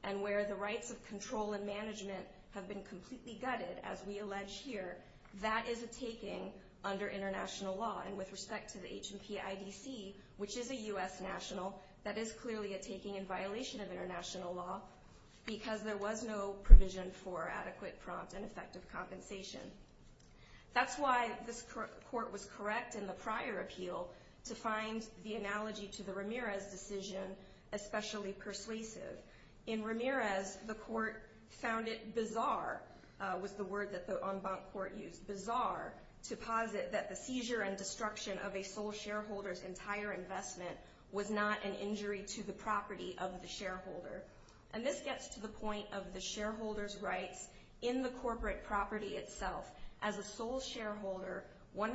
and where the rights of control and management have been completely gutted, as we allege here, that is a taking under international law. And with respect to the H&P IDC, which is a U.S. national, that is clearly a taking in violation of international law because there was no provision for adequate prompt and effective compensation. That's why this court was correct in the prior appeal to find the analogy to the Ramirez decision especially persuasive. In Ramirez, the court found it bizarre, with the word that the en banc court used, bizarre, to posit that the seizure and destruction of a sole shareholder's entire investment was not an injury to the property of the shareholder. And this gets to the point of the shareholder's right in the corporate property itself. As a sole shareholder, 100%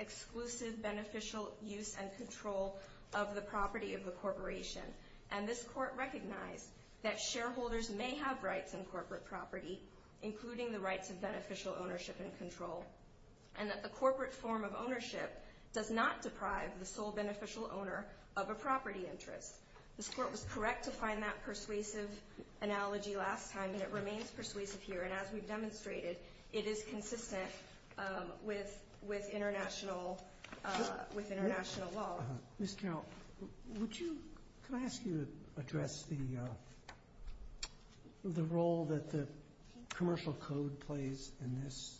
exclusive beneficial use and control of the property of the corporation. And this court recognized that shareholders may have rights in corporate property, including the rights of beneficial ownership and control, and that the corporate form of ownership does not deprive the sole beneficial owner of a property interest. This court was correct to find that persuasive analogy last time, and it remains persuasive here. And as we've demonstrated, it is consistent with international law. Ms. Carroll, could I ask you to address the role that the commercial code plays in this?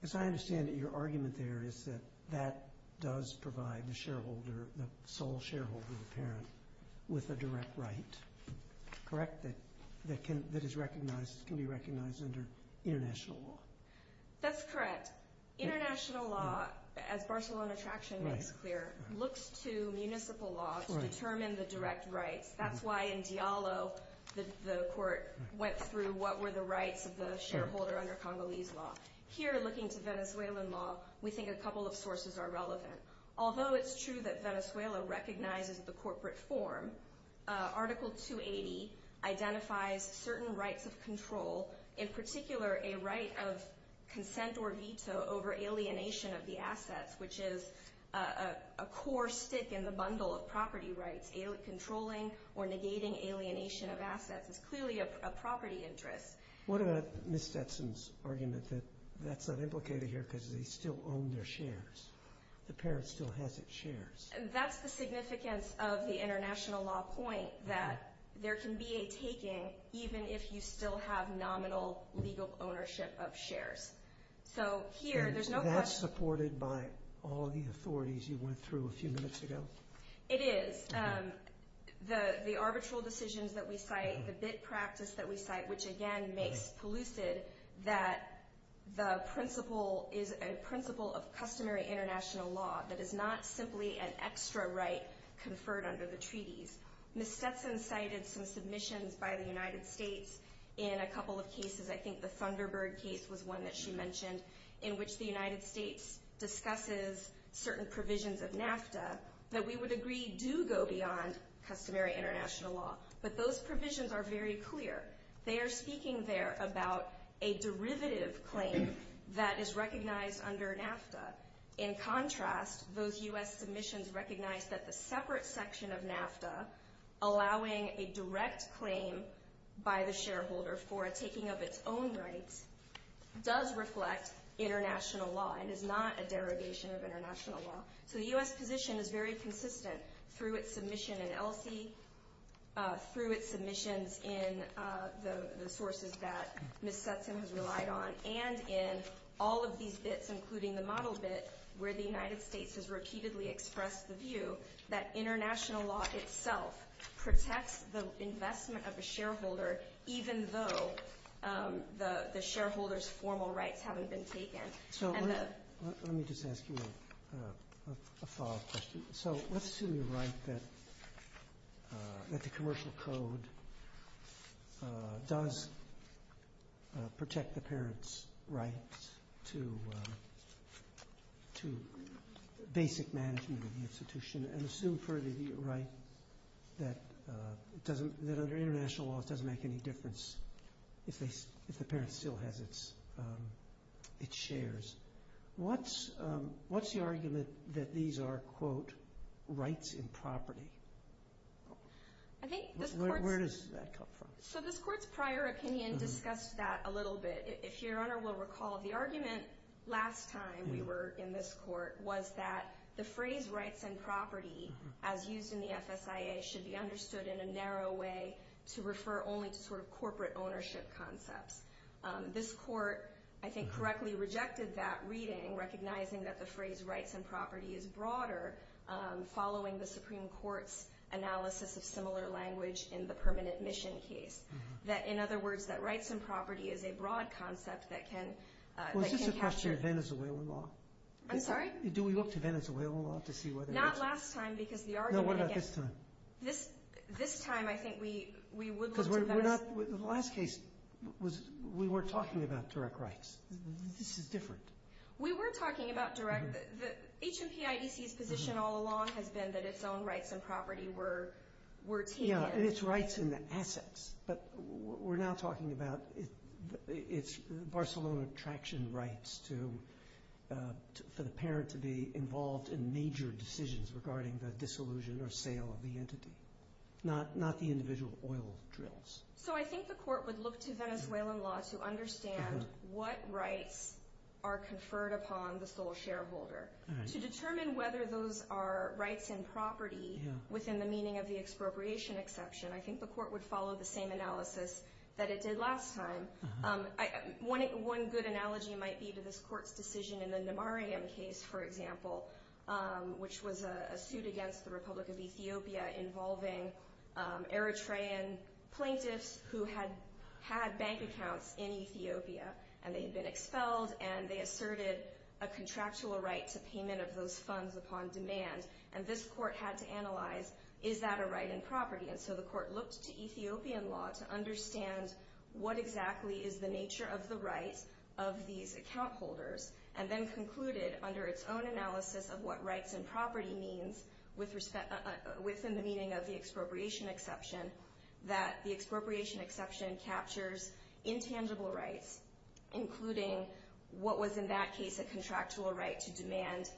Because I understand that your argument there is that that does provide the shareholder, the sole shareholder or parent, with a direct right, correct? That can be recognized under international law. That's correct. International law, as Barcelona Traction makes clear, looks to municipal law to determine the direct right. That's why in Diallo, the court went through what were the rights of the shareholder under Congolese law. Here, looking to Venezuelan law, we think a couple of sources are relevant. Although it's true that Venezuela recognizes the corporate form, Article 280 identifies certain rights of control, in particular a right of consent or veto over alienation of the assets, which is a core stick in the bundle of property rights, controlling or negating alienation of assets. It's clearly a property interest. What about Ms. Stetson's argument that that's not implicated here because they still own their shares? The parent still has its shares. That's the significance of the international law point, that there can be a taking even if you still have nominal legal ownership of shares. So here, there's no question— And that's supported by all the authorities you went through a few minutes ago? It is. The arbitral decisions that we cite, the bid practice that we cite, which again makes lucid that the principle is a principle of customary international law that is not simply an extra right conferred under the treaties. Ms. Stetson cited some submissions by the United States in a couple of cases. I think the Thunderbird case was one that she mentioned, in which the United States discusses certain provisions of NAFTA that we would agree do go beyond customary international law. But those provisions are very clear. They are speaking there about a derivative claim that is recognized under NAFTA. In contrast, those U.S. submissions recognize that the separate section of NAFTA, allowing a direct claim by the shareholder for a taking of its own rights, does reflect international law and is not a derogation of international law. So the U.S. position is very consistent through its submission in ELSI, through its submissions in the sources that Ms. Stetson has relied on, and in all of these bids, including the model bid, where the United States has repeatedly expressed the view that international law itself protects the investment of the shareholder, even though the shareholder's formal rights haven't been taken. Let me just ask you a follow-up question. So let's assume you're right that the Commercial Code does protect the parents' rights to basic management of the institution, and assume further that you're right that international law doesn't make any difference if the parent still has its shares. What's the argument that these are, quote, rights and property? Where does that come from? So this Court's prior opinion discussed that a little bit. If Your Honor will recall, the argument last time we were in this Court was that the phrase rights and property, as used in the FSIA, should be understood in a narrow way to refer only to sort of corporate ownership concepts. This Court, I think, correctly rejected that reading, recognizing that the phrase rights and property is broader, following the Supreme Court's analysis of similar language in the permanent mission case. That, in other words, that rights and property is a broad concept that can capture- Well, this is a question of Venezuela law. I'm sorry? Do we look to Venezuela law to see whether- Not last time, because the argument against- No, what about this time? This time, I think we would look at- Because we're not- the last case, we weren't talking about direct rights. This is different. We were talking about direct- HMTIDC's position all along has been that its own rights and property were key. Yeah, and its rights and assets. But what we're now talking about is Barcelona traction rights for the parent to be involved in major decisions regarding the disillusion or sale of the entity, not the individual oil drills. So I think the Court would look to Venezuelan law to understand what rights are conferred upon the sole shareholder. To determine whether those are rights and property within the meaning of the expropriation exception, and I think the Court would follow the same analysis that it did last time. One good analogy might be to this Court's decision in the Namariam case, for example, which was a suit against the Republic of Ethiopia involving Eritrean plaintiffs who had bank accounts in Ethiopia. And they'd been expelled, and they asserted a contractual right to payment of those funds upon demand. And this Court had to analyze, is that a right and property? And so the Court looked to Ethiopian law to understand what exactly is the nature of the right of these account holders, and then concluded under its own analysis of what rights and property means within the meaning of the expropriation exception, that the expropriation exception captures intangible rights, including what was, in that case, a contractual right to demand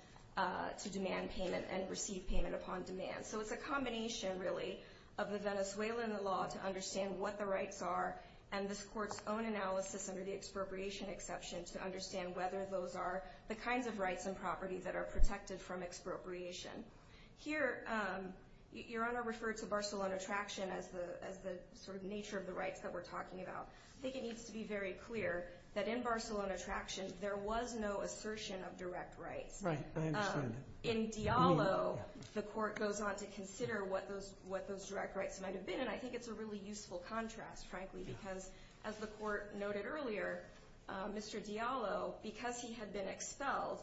payment and receive payment upon demand. So it's a combination, really, of the Venezuelan law to understand what the rights are, and this Court's own analysis under the expropriation exception to understand whether those are the kinds of rights and properties that are protected from expropriation. Here, Your Honor referred to Barcelona Traction as the sort of nature of the rights that we're talking about. I think it needs to be very clear that in Barcelona Traction, there was no assertion of direct rights. In Diallo, the Court goes on to consider what those direct rights might have been, and I think it's a really useful contrast, frankly, because, as the Court noted earlier, Mr. Diallo, because he had been expelled,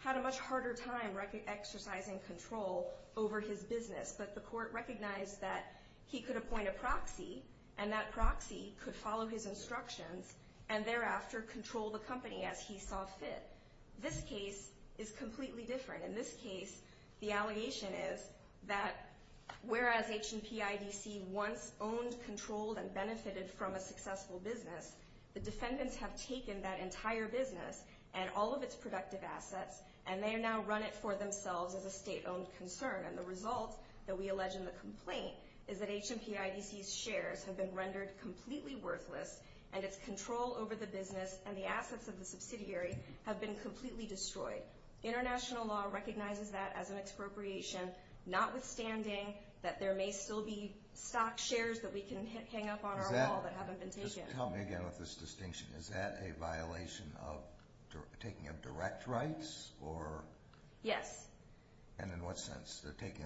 had a much harder time exercising control over his business. But the Court recognized that he could appoint a proxy, and that proxy could follow his instructions and thereafter control the company as he saw fit. This case is completely different. In this case, the allegation is that whereas HMPIDC once owned, controlled, and benefited from a successful business, the defendants have taken that entire business and all of its productive assets, and they now run it for themselves as a state-owned concern. And the result that we allege in the complaint is that HMPIDC's shares have been rendered completely worthless, and its control over the business and the assets of the subsidiary have been completely destroyed. International law recognizes that as an expropriation, notwithstanding that there may still be stock shares that we can hang up on our wall that haven't been taken. Tell me again what this distinction is. Is that a violation of taking of direct rights? Yes. And in what sense? Indirect taking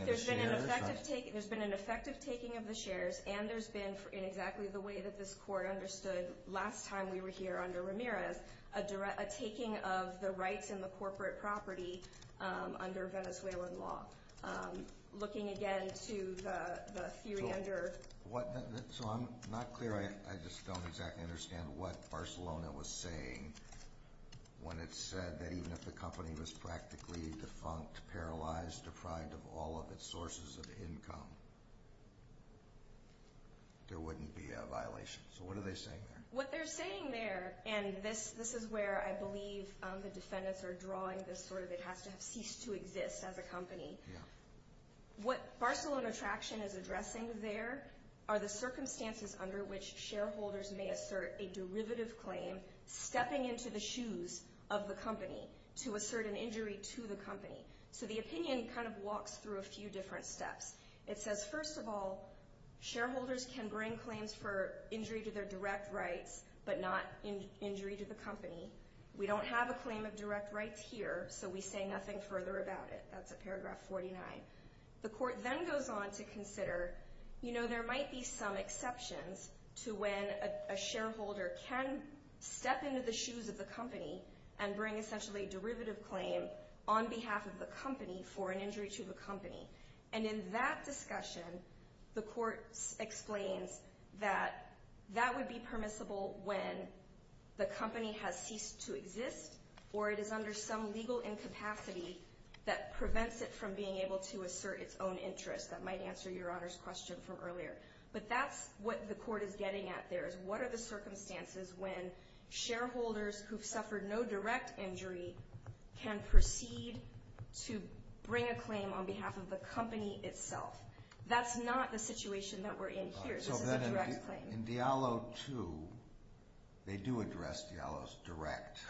of the shares? There's been an effective taking of the shares, and there's been, in exactly the way that this court understood last time we were here under Ramirez, a taking of the rights in the corporate property under Venezuelan law. Looking again to the suit under ______. So I'm not clear. I just don't exactly understand what Barcelona was saying when it said that even if the company was practically defunct, it's paralyzed, deprived of all of its sources of income, there wouldn't be a violation. So what are they saying there? What they're saying there, and this is where I believe the defendants are drawing this where they have to cease to exist as a company, what Barcelona Traction is addressing there are the circumstances under which shareholders may assert a derivative claim, stepping into the shoes of the company to assert an injury to the company. So the opinion kind of walks through a few different steps. It says, first of all, shareholders can bring claims for injury to their direct rights but not injury to the company. We don't have a claim of direct rights here, so we say nothing further about it. That's at paragraph 49. The court then goes on to consider, you know, there might be some exceptions to when a shareholder can step into the shoes of the company and bring essentially a derivative claim on behalf of the company for an injury to the company. And in that discussion, the court explains that that would be permissible when the company has ceased to exist or it is under some legal incapacity that prevents it from being able to assert its own interest. That might answer Your Honor's question from earlier. But that's what the court is getting at there is what are the circumstances when shareholders who've suffered no direct injury can proceed to bring a claim on behalf of the company itself. That's not the situation that we're in here. So then in Diallo 2, they do address Diallo's direct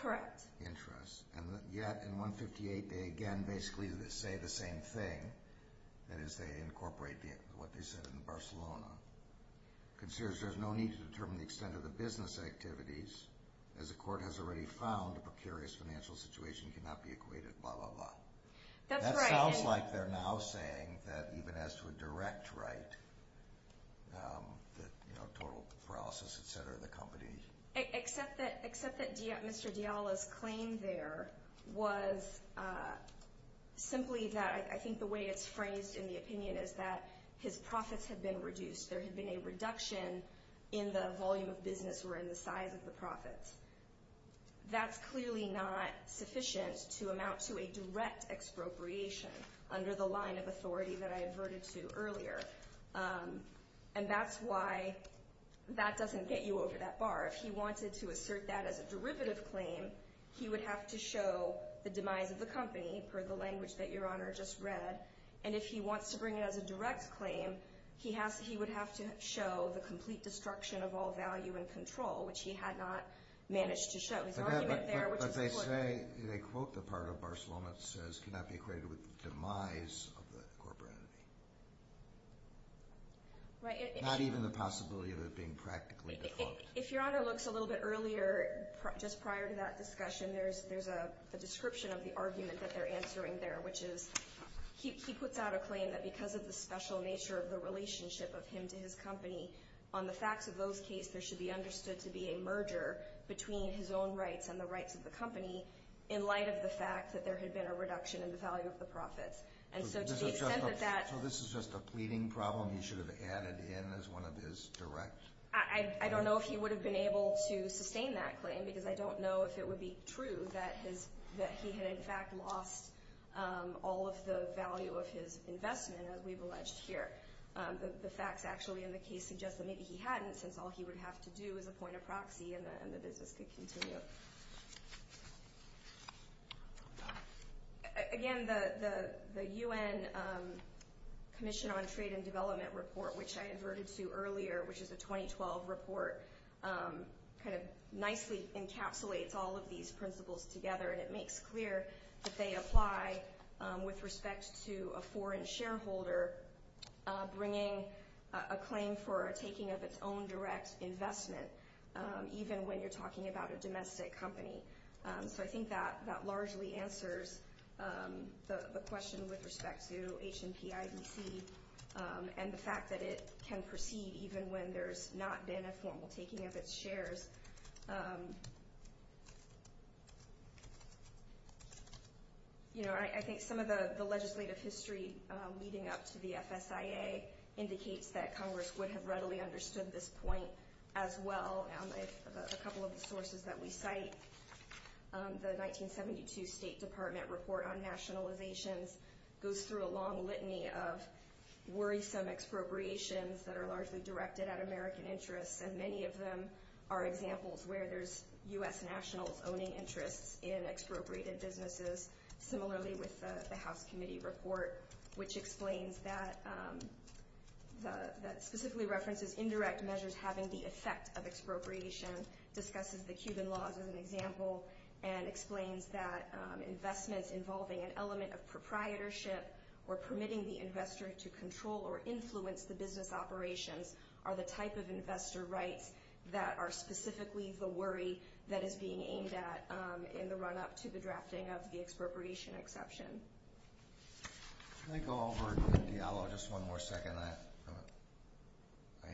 interests. And yet in 158, they again basically say the same thing. That is, they incorporate what they said in Barcelona. It considers there's no need to determine the extent of the business activities as the court has already found a precarious financial situation cannot be equated, blah, blah, blah. That sounds like they're now saying that even as to a direct right, the total process, et cetera, of the company. Except that Mr. Diallo's claim there was simply that I think the way it's phrased in the opinion is that his profits have been reduced. There has been a reduction in the volume of business or in the size of the profits. That's clearly not sufficient to amount to a direct expropriation under the line of authority that I adverted to earlier. And that's why that doesn't get you over that bar. If he wanted to assert that as a derivative claim, he would have to show the demise of the company for the language that Your Honor just read. And if he wants to bring it as a direct claim, he would have to show the complete destruction of all value and control, which he had not managed to show. But they say, they quote the part of Barcelona that says cannot be equated with the demise of the corporate entity. Not even the possibility of it being practically the quote. If Your Honor looked a little bit earlier, just prior to that discussion, there's a description of the argument that they're answering there, which is he puts out a claim that because of the special nature of the relationship of him and his company, on the facts of those cases there should be understood to be a merger between his own rights and the rights of the company, in light of the fact that there had been a reduction in the value of the profits. And so to the extent that that... So this is just a pleading problem he should have added in as one of his direct... I don't know if he would have been able to sustain that claim, because I don't know if it would be true that he had, in fact, lost all of the value of his investment that we've alleged here. The facts actually in the case suggest that maybe he hadn't, since all he would have to do is appoint a proxy and the business could continue. Again, the UN Commission on Trade and Development report, which I adverted to earlier, which is a 2012 report, kind of nicely encapsulates all of these principles together, and it makes clear that they apply with respect to a foreign shareholder bringing a claim for a taking of its own direct investment, even when you're talking about a domestic company. So I think that largely answers the question with respect to H&P IDC and the fact that it can proceed even when there's not been a formal taking of its shares. I think some of the legislative history leading up to the FSIA indicates that Congress would have readily understood this point as well. A couple of the sources that we cite, the 1972 State Department report on nationalization, goes through a long litany of worrisome expropriations that are largely directed at American interests, and many of them are examples where there's U.S. national owning interests in expropriated businesses, similarly with the House Committee report, which explains that specifically references indirect measures having the effect of expropriation, discusses the Cuban laws as an example, and explains that investments involving an element of proprietorship or permitting the investor to control or influence the business operation are the type of investor rights that are specifically the worry that is being aimed at in the run-up to the drafting of the expropriation exception. Can I go over to Mr. Diallo just one more second? I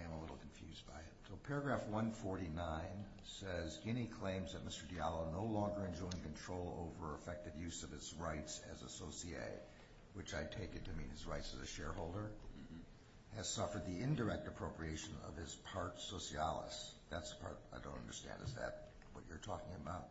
am a little confused by it. Paragraph 149 says, Any claims that Mr. Diallo no longer enjoying control over effective use of his rights as associate, which I take it to mean his rights as a shareholder, has suffered the indirect appropriation of his part socialis, that's part, I don't understand, is that what you're talking about,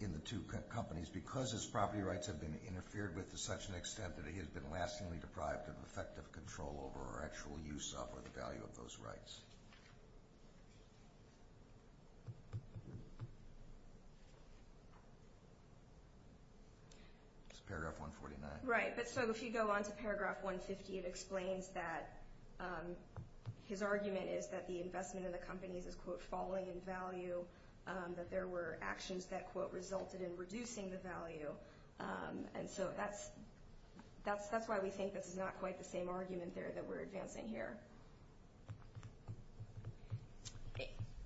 in the two companies, because his property rights have been interfered with to such an extent that he has been lastingly deprived of effective control over actual use of or the value of those rights. It's paragraph 149. Right, but so if you go on to paragraph 150, it explains that his argument is that the investment of the companies is, quote, falling in value, that there were actions that, quote, resulted in reducing the value, and so that's why we think this is not quite the same argument there that we're advancing here.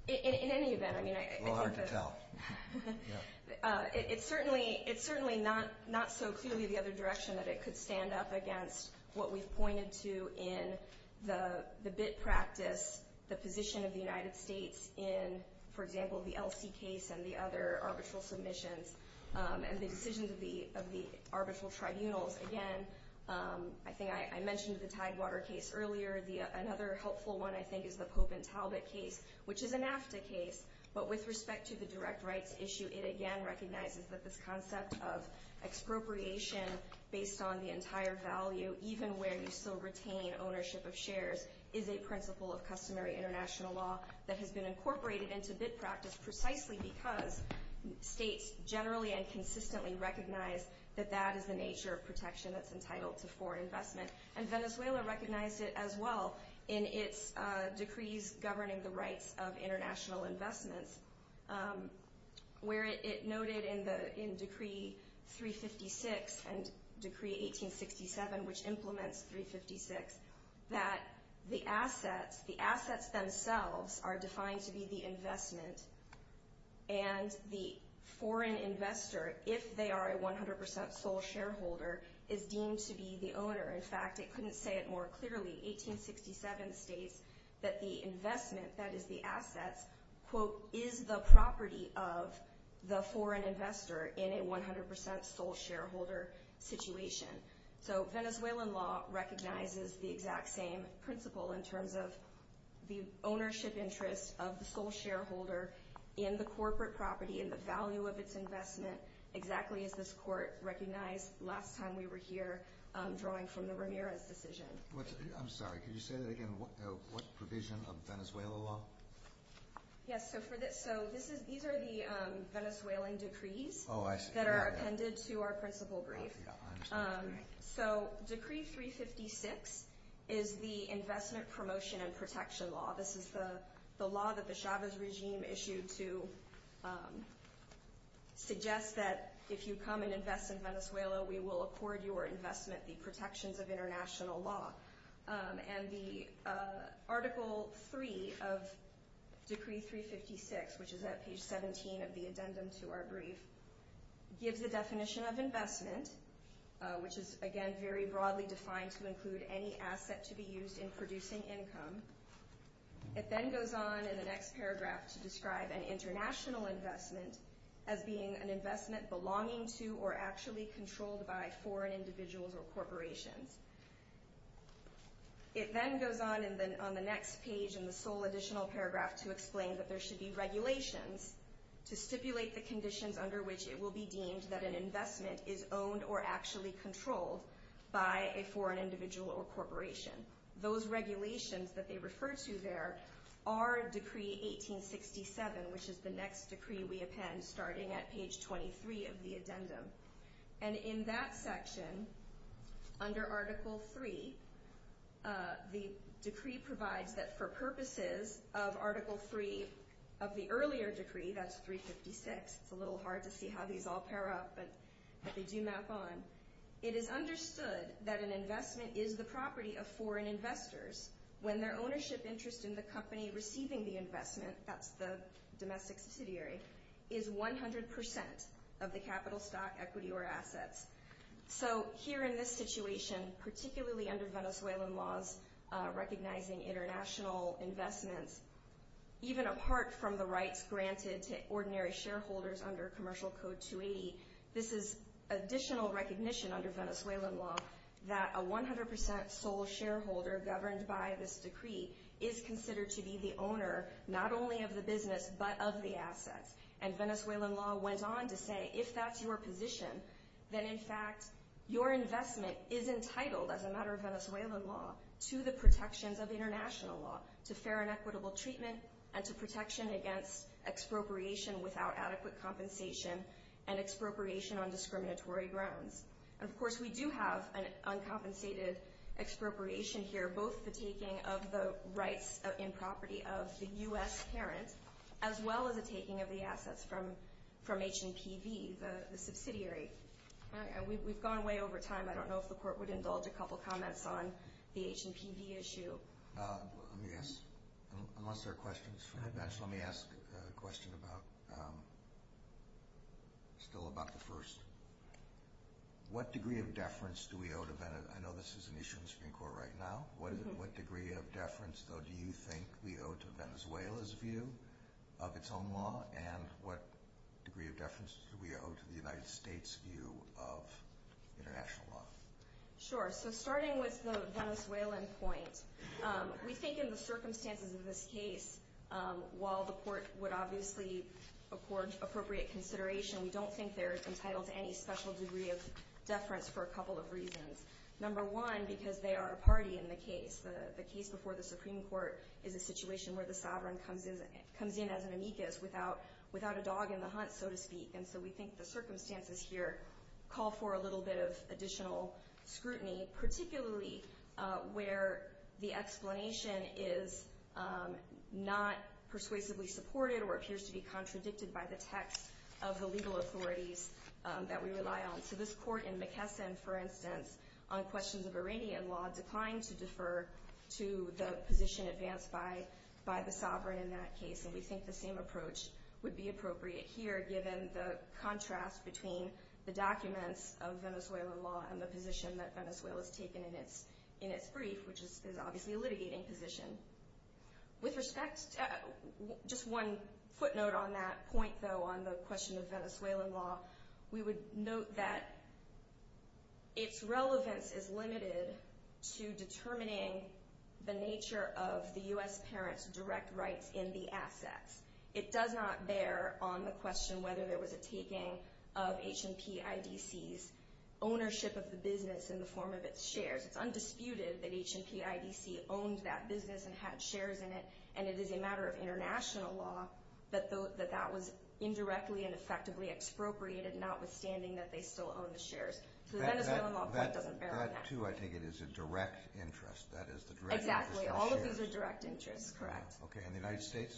In any event, I mean, I think that... Well, hard to tell. It's certainly not so clearly the other direction that it could stand up against what we've pointed to in the bid practice, the position of the United States in, for example, the LC case and the other arbitral submissions and the decisions of the arbitral tribunals. Again, I think I mentioned the Tidewater case earlier. Another helpful one, I think, is the Pope and Talbot case, which is a NAFTA case, but with respect to the direct rights issue, it again recognizes that this concept of expropriation based on the entire value, even when you still retain ownership of shares, is a principle of customary international law that has been incorporated into bid practice precisely because states generally and consistently recognize that that is the nature of protection that's entitled to foreign investment, and Venezuela recognized it as well in its decrees governing the rights of international investment, where it noted in Decree 356 and Decree 1867, which implements 356, that the assets themselves are defined to be the investment, and the foreign investor, if they are a 100% sole shareholder, is deemed to be the owner. In fact, it couldn't say it more clearly. 1867 states that the investment, that is the assets, is the property of the foreign investor in a 100% sole shareholder situation. So Venezuelan law recognizes the exact same principle in terms of the ownership interest of the sole shareholder in the corporate property and the value of its investment, exactly as this court recognized last time we were here drawing from the Ramirez decision. I'm sorry, could you say that again? What provision of Venezuelan law? Yes, so these are the Venezuelan decrees that are appended to our principle brief. So Decree 356 is the investment promotion and protection law. This is the law that the Chavez regime issued to suggest that if you come and invest in Venezuela, we will accord your investment the protections of international law. And the Article 3 of Decree 356, which is at page 17 of the addendum to our brief, gives the definition of investment, which is, again, very broadly defined, to include any asset to be used in producing income. It then goes on in the next paragraph to describe an international investment as being an investment belonging to or actually controlled by foreign individuals or corporations. It then goes on on the next page in the full additional paragraph to explain that there should be regulations to stipulate the conditions under which it will be deemed that an investment is owned or actually controlled by a foreign individual or corporation. Those regulations that they refer to there are Decree 1867, which is the next decree we append, starting at page 23 of the addendum. And in that section, under Article 3, the decree provides that for purposes of Article 3 of the earlier decree, that's 356, it's a little hard to see how these all pair up, but they do map on, it is understood that an investment is the property of foreign investors when their ownership interest in the company receiving the investment, that's the domestic subsidiary, is 100% of the capital stock, equity, or assets. So here in this situation, particularly under Venezuelan laws recognizing international investment, even apart from the rights granted to ordinary shareholders under Commercial Code 280, this is additional recognition under Venezuelan law that a 100% sole shareholder governed by this decree is considered to be the owner not only of the business but of the assets. And Venezuelan law went on to say if that's your position, then in fact your investment is entitled, as a matter of Venezuelan law, to the protections of international law, to fair and equitable treatment, and to protection against expropriation without adequate compensation and expropriation on discriminatory grounds. Of course, we do have an uncompensated expropriation here, both the taking of the rights and property of the U.S. parent, as well as the taking of the assets from H&TV, the subsidiary. We've gone way over time. I don't know if the Court would indulge a couple of comments on the H&TV issue. Yes. Unless there are questions. Let me ask a question still about the first. What degree of deference do we owe to Venezuela? I know this is an issue in the Supreme Court right now. What degree of deference, though, do you think we owe to Venezuela's view of its own law, and what degree of deference do we owe to the United States' view of international law? Sure. So starting with the Venezuelan point, we think in the circumstances of this case, while the Court would obviously afford appropriate consideration, we don't think they're entitled to any special degree of deference for a couple of reasons. Number one, because they are a party in the case. The case before the Supreme Court is a situation where the sovereign comes in as an amicus, without a dog in the hunt, so to speak. And so we think the circumstances here call for a little bit of additional scrutiny, particularly where the explanation is not persuasively supported or appears to be contradicted by the text of the legal authorities that we rely on. So this Court in McKesson, for instance, on questions of Iranian law, declined to defer to the position advanced by the sovereign in that case, and we think the same approach would be appropriate here, given the contrast between the documents of Venezuelan law and the position that Venezuela has taken in its brief, which is obviously a litigating position. With respect, just one footnote on that point, though, on the question of Venezuelan law, we would note that its relevance is limited to determining the nature of the U.S. parent's direct rights in the asset. It does not bear on the question whether there was a taking of H&P IDC's ownership of the business in the form of its shares. It's undisputed that H&P IDC owned that business and had shares in it, and it is a matter of international law that that was indirectly and effectively expropriated, notwithstanding that they still own the shares. So Venezuelan law doesn't bear on that. That, too, I take it, is a direct interest. Exactly. All of it is a direct interest, correct. Okay. And the United States?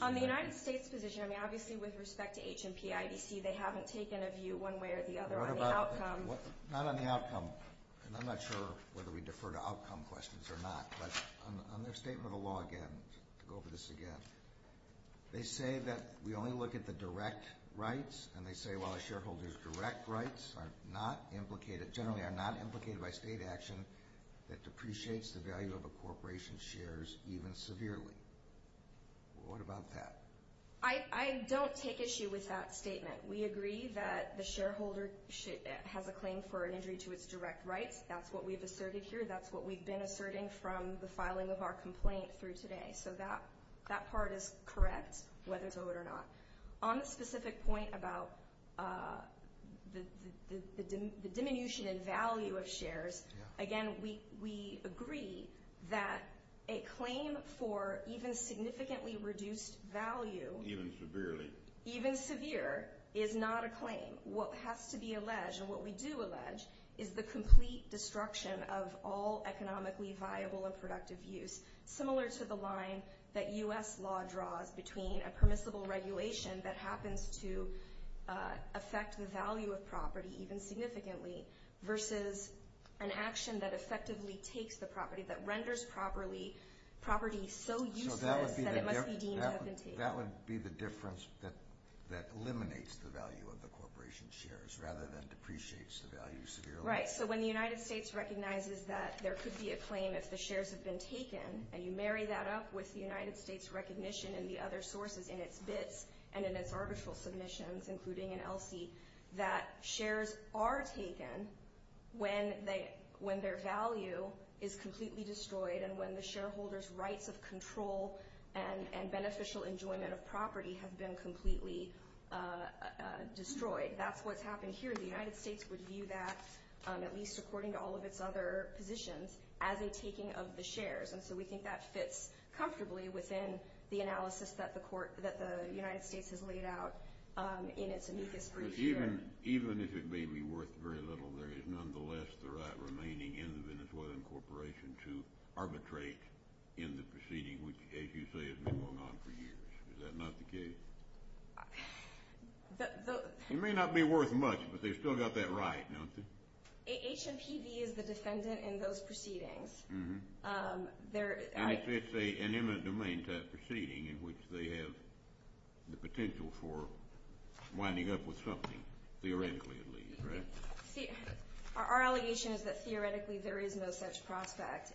On the United States' position, I mean, obviously with respect to H&P IDC, they haven't taken a view one way or the other on the outcome. Not on the outcome, and I'm not sure whether we defer to outcome questions or not, but on their statement of the law again, to go over this again, they say that we only look at the direct rights, and they say, well, the shareholders' direct rights are not implicated, generally are not implicated by state action that depreciates the value of a corporation's shares even severely. What about that? I don't take issue with that statement. We agree that the shareholder should have a claim for an injury to its direct rights. That's what we've asserted here. That's what we've been asserting from the filing of our complaint through today. So that part is correct, whether to vote or not. On the specific point about the diminution in value of shares, again, we agree that a claim for even significantly reduced value… Even severe is not a claim. What has to be alleged, and what we do allege, is the complete destruction of all economically viable and productive use, similar to the line that U.S. law draws between a permissible regulation that happens to affect the value of property, even significantly, versus an action that effectively takes the property, that renders property so useless that it must be de-medicated. That would be the difference that eliminates the value of the corporation's shares rather than depreciates the value severely? Right. So when the United States recognizes that there could be a claim if the shares have been taken, and you marry that up with the United States' recognition in the other sources, in its bids and in its article submissions, including in ELSI, that shares are taken when their value is completely destroyed and when the shareholders' rights of control and beneficial enjoyment of property have been completely destroyed. That's what's happened here. The United States would view that, at least according to all of its other positions, as a taking of the shares. And so we think that fits comfortably within the analysis that the United States has laid out in its immediate first share. Even if it may be worth very little, there is nonetheless the right remaining in the Venezuelan corporation to arbitrate in the proceeding, which, as you say, has been going on for years. Is that not the case? It may not be worth much, but they've still got that right, don't they? HMCD is the defendant in those proceedings. It's an imminent domain type proceeding in which they have the potential for winding up with something, theoretically at least, right? Our allegation is that theoretically there is no such prospect.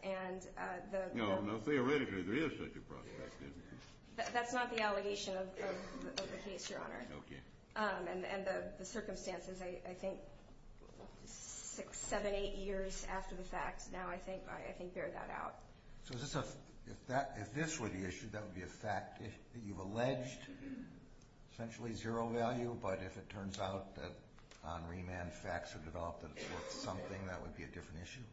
No, theoretically there is such a prospect. That's not the allegation of the case, Your Honor. Okay. And the circumstances, I think, seven, eight years after the fact, now I think I can figure that out. So if this were the issue, that would be a fact that you've alleged, essentially zero value, but if it turns out that on remand facts are developed that it's worth something, that would be a different issue?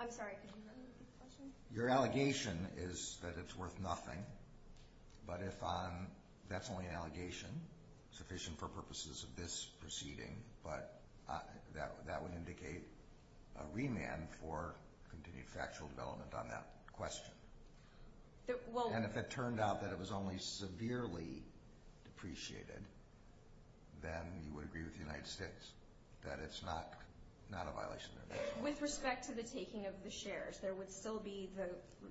I'm sorry, could you repeat the question? Your allegation is that it's worth nothing. But if that's only an allegation, sufficient for purposes of this proceeding, but that would indicate a remand for continued factual development on that question. And if it turned out that it was only severely depreciated, then you would agree with the United States that it's not a violation of that? With respect to the taking of the shares, there would still be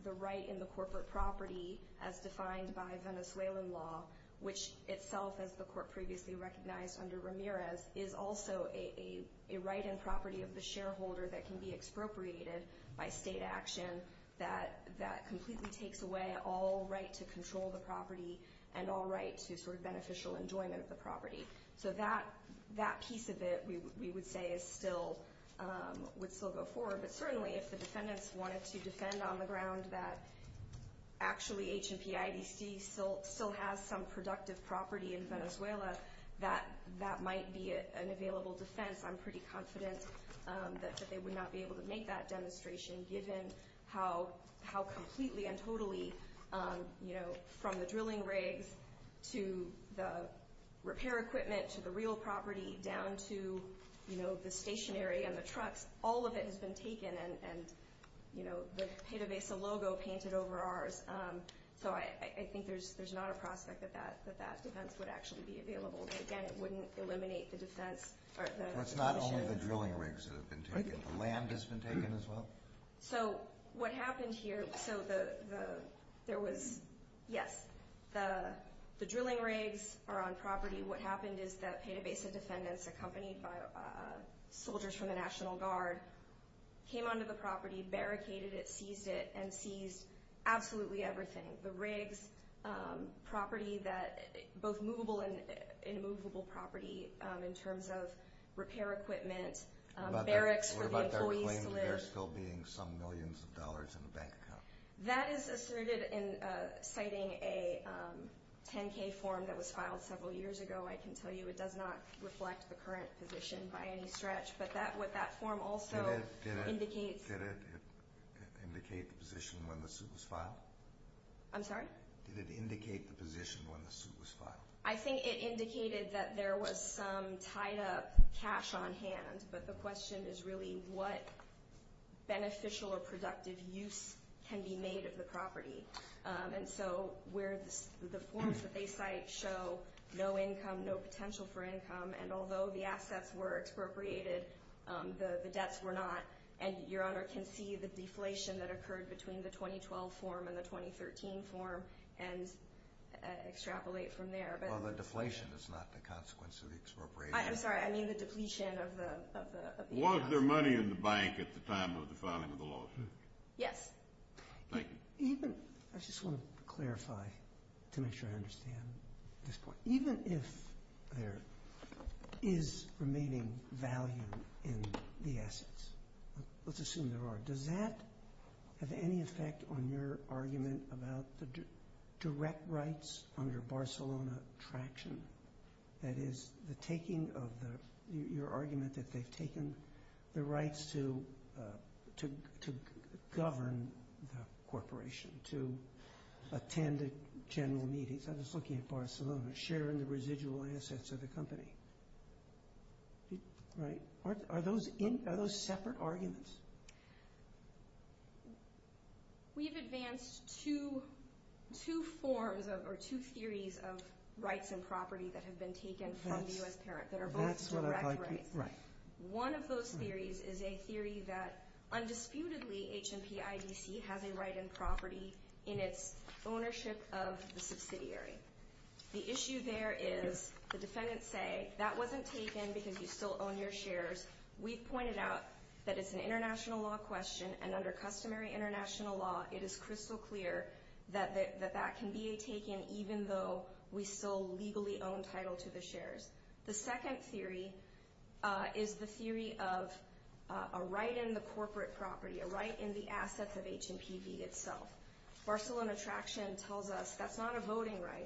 the right in the corporate property as defined by Venezuelan law, which itself, as the court previously recognized under Ramirez, is also a right and property of the shareholder that can be expropriated by state action that completely takes away all right to control the property and all right to sort of beneficial enjoyment of the property. So that piece of it, we would say, would still go forward. But certainly, if the descendants wanted to defend on the grounds that actually HMPIDC still has some productive property in Venezuela, that might be an available defense. I'm pretty confident that they would not be able to make that demonstration, given how completely and totally, from the drilling rigs to the repair equipment to the real property down to the stationary and the trucks, all of it has been taken and the Pita Besa logo painted over ours. So I think there's not a prospect that that defense would actually be available. Again, it wouldn't eliminate the defense. It's not only the drilling rigs that have been taken. The land has been taken as well? So what happened here, the drilling rigs are on property. What happened is that Pita Besa descendants, accompanied by soldiers from the National Guard, came onto the property, barricaded it, seized it, and seized absolutely everything, the rigs, property, both movable and immovable property in terms of repair equipment, barracks. What about that reclaimed repair skill being some millions of dollars in the bank account? That is asserted in citing a 10-K form that was filed several years ago. I can tell you it does not reflect the current position by any stretch, but that form also indicates… Did it indicate the position when the suit was filed? I'm sorry? Did it indicate the position when the suit was filed? I think it indicated that there was some tied-up cash on hand, but the question is really what beneficial or productive use can be made of the property. And so the forms that they cite show no income, no potential for income, and although the assets were expropriated, the debts were not. And Your Honor can see the deflation that occurred between the 2012 form and the 2013 form and extrapolate from there. Well, the deflation is not the consequence of the expropriation. I'm sorry, I mean the depletion of the… Was there money in the bank at the time of the filing of the lawsuit? Yes. Thank you. I just want to clarify to make sure I understand this point. Even if there is remaining value in the assets, let's assume there are, does that have any effect on your argument about the direct rights under Barcelona traction? That is, your argument that they've taken the rights to govern the corporation, to attend general meetings. I was looking at Barcelona, sharing the residual assets of the company. Are those separate arguments? We've advanced two forms or two theories of rights and property that have been taken from the U.S. Tarrant that are both direct rights. One of those theories is a theory that undisputedly HMPIDC has a right and property in its ownership of the subsidiary. The issue there is the defendants say that wasn't taken because you still own your shares. We've pointed out that it's an international law question, and under customary international law, it is crystal clear that that can be taken even though we still legally own title to the shares. The second theory is the theory of a right in the corporate property, a right in the assets of HMPV itself. Barcelona traction tells us that's not a voting right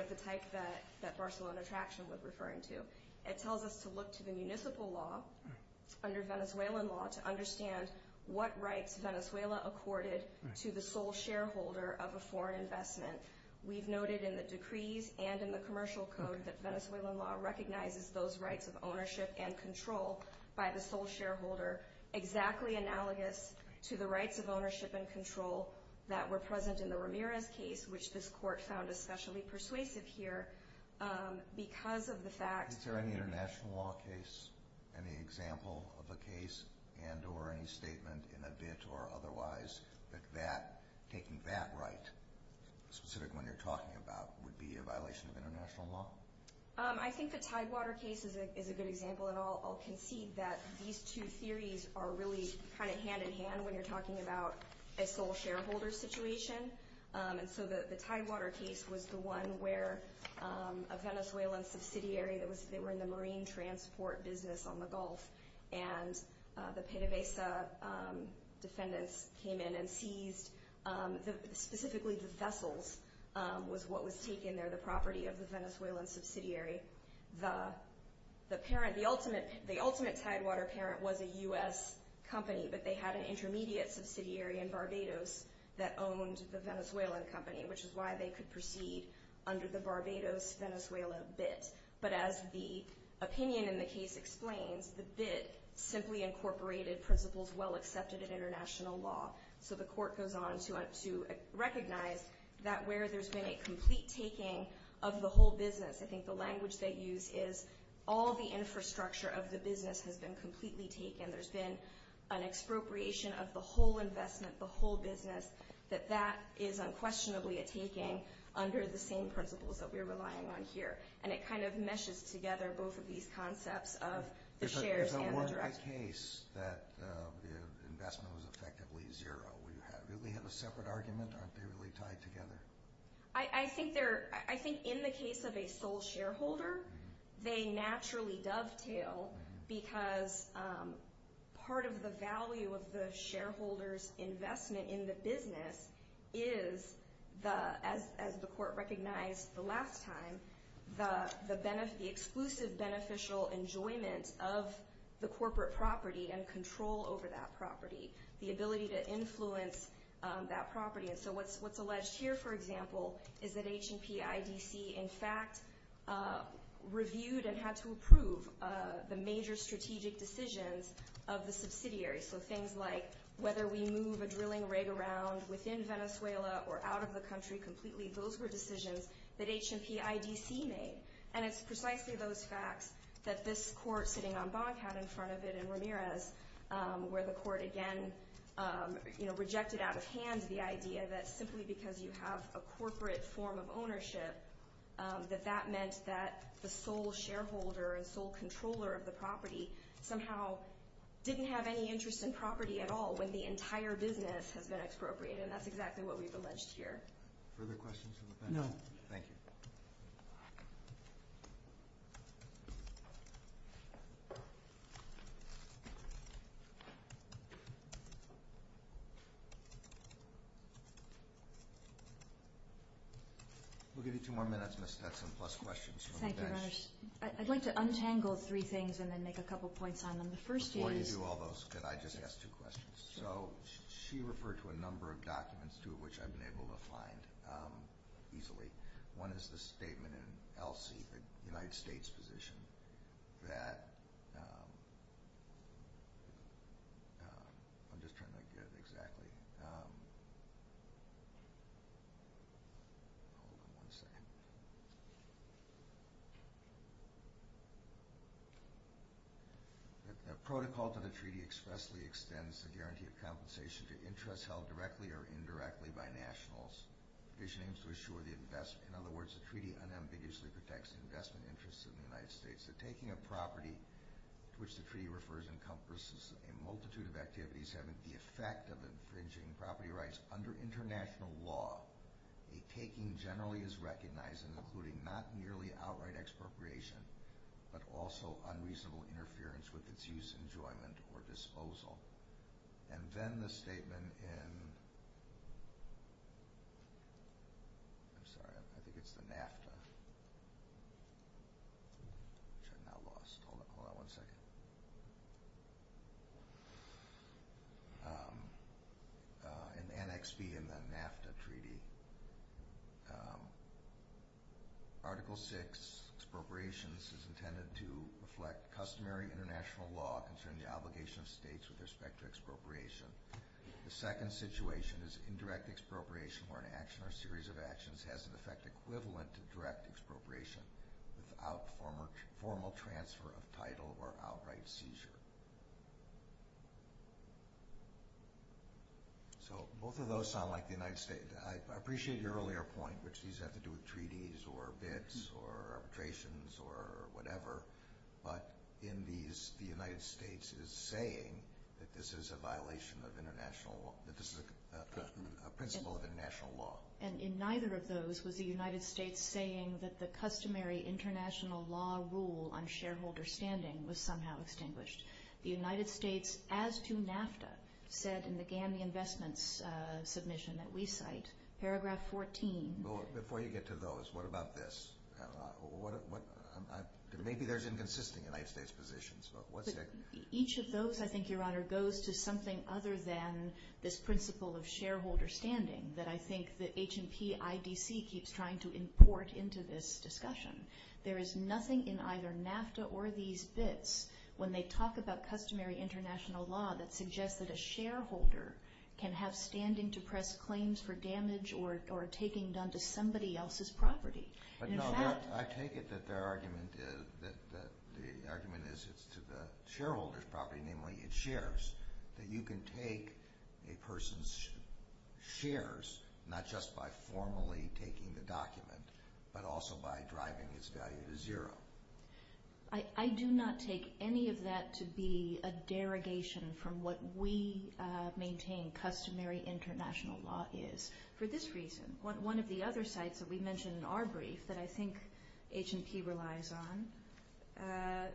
of the type that Barcelona traction was referring to. It tells us to look to the municipal law under Venezuelan law to understand what right Venezuela accorded to the sole shareholder of a foreign investment. We've noted in the decrees and in the commercial code that Venezuelan law recognizes those rights of ownership and control by the sole shareholder exactly analogous to the rights of ownership and control that were present in the Ramirez case, which this court found especially persuasive here because of the fact- Is there any international law case, any example of a case and or any statement in a bid or otherwise that taking that right, specific one you're talking about, would be a violation of international law? I think the Tidewater case is a good example, and I'll concede that these two theories are really kind of hand-in-hand when you're talking about a sole shareholder situation. And so the Tidewater case was the one where a Venezuelan subsidiary that were in the marine transport business on the Gulf and the PDVSA descendants came in and seized specifically the vessels with what was taken. They're the property of the Venezuelan subsidiary. The parent, the ultimate Tidewater parent was a U.S. company, but they had an intermediate subsidiary in Barbados that owned the Venezuelan company, which is why they could proceed under the Barbados-Venezuela bid. But as the opinion in the case explains, the bid simply incorporated principles well accepted in international law. So the court goes on to recognize that where there's been a complete taking of the whole business, I think the language they use is all the infrastructure of the business has been completely taken. There's been an expropriation of the whole investment, the whole business, that that is unquestionably a taking under the same principles that we're relying on here. And it kind of meshes together both of these concepts of the shares and the risk. So it wasn't a case that the investment was effectively zero. We have a separate argument or are they really tied together? I think in the case of a sole shareholder, they naturally dovetail because part of the value of the shareholder's investment in the business is, as the court recognized the last time, the exclusive beneficial enjoyment of the corporate property and control over that property, the ability to influence that property. And so what's alleged here, for example, is that H&P, IBC, in fact, reviewed and had to approve the major strategic decisions of the subsidiary. So things like whether we move a drilling rig around within Venezuela or out of the country completely, those were decisions that H&P, IBC made. And it's precisely those facts that this court sitting on Bonn had in front of it in Ramirez, where the court again rejected out of hand the idea that simply because you have a corporate form of ownership, that that meant that the sole shareholder and sole controller of the property somehow didn't have any interest in property at all when the entire business had been expropriated. And that's exactly what we've alleged here. Further questions from the panel? No. Thank you. We'll give you two more minutes, Ms. Stetson, plus questions from the bench. I'd like to untangle three things and then make a couple points on them. Before you do all those, could I just ask two questions? So she referred to a number of documents, two of which I've been able to find easily. One is the statement in ELSI, the United States position, that the protocol for the treaty expressly extends the guarantee of compensation to interests held directly or indirectly by nationals. In other words, the treaty unambiguously protects investment interests in the United States. The taking of property, to which the treaty refers, encompasses a multitude of activities having the effect of infringing property rights under international law. A taking generally is recognized including not merely outright expropriation, but also unreasonable interference with its use, enjoyment, or disposal. And then the statement in... I'm sorry, I think it's the NAFTA. Which I've now lost all the quality. An annex deed in the NAFTA treaty. Article VI, expropriations, is intended to reflect customary international law concerning the obligation of states with respect to expropriation. The second situation is indirect expropriation where an action or series of actions has an effect equivalent to direct expropriation without formal transfer of title or outright seizure. I appreciate your earlier point, which has to do with treaties or bids or arbitrations or whatever. But in these, the United States is saying that this is a violation of international law, that this is a principle of international law. And in neither of those was the United States saying that the customary international law rule on shareholder standing was somehow extinguished. The United States, as to NAFTA, said in the GAMI investments submission that we cite, paragraph 14... Before you get to those, what about this? Maybe there's inconsistency in United States positions. Each of those, I think, Your Honor, goes to something other than this principle of shareholder standing that I think the H&P IDC keeps trying to import into this discussion. There is nothing in either NAFTA or these bids when they talk about customary international law that suggests that a shareholder can have standing to press claims for damage or taking done to somebody else's property. I take it that the argument is to the shareholder's property, namely its shares, that you can take a person's shares not just by formally taking the document, but also by driving this value to zero. I do not take any of that to be a derogation from what we maintain customary international law is. For this reason, one of the other sites that we mentioned in our brief that I think H&P relies on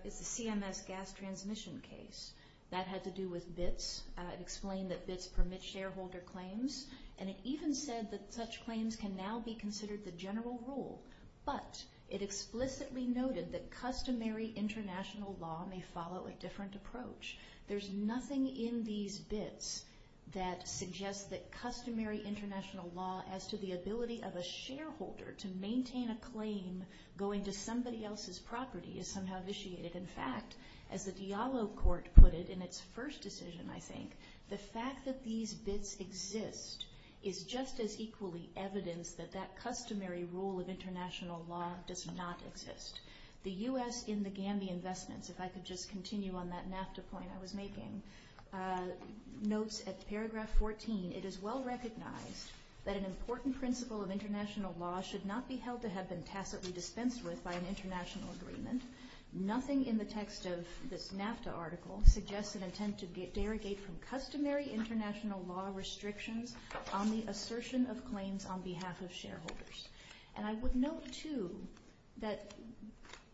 is the CMS gas transmission case. That has to do with bids. It explained that bids permit shareholder claims. And it even said that such claims can now be considered the general rule. But it explicitly noted that customary international law may follow a different approach. There's nothing in these bids that suggests that customary international law as to the ability of a shareholder to maintain a claim going to somebody else's property is somehow vitiated. In fact, as the Diallo Court put it in its first decision, I think, the fact that these bids exist is just as equally evidence that that customary rule of international law does not exist. The U.S. in the Gambia Investments, if I could just continue on that NAFTA point I was making, notes at paragraph 14, it is well recognized that an important principle of international law should not be held to have been passively dispensed with by an international agreement. Nothing in the text of this NAFTA article suggests an attempt to derogate from customary international law restrictions on the assertion of claims on behalf of shareholders. And I would note, too, that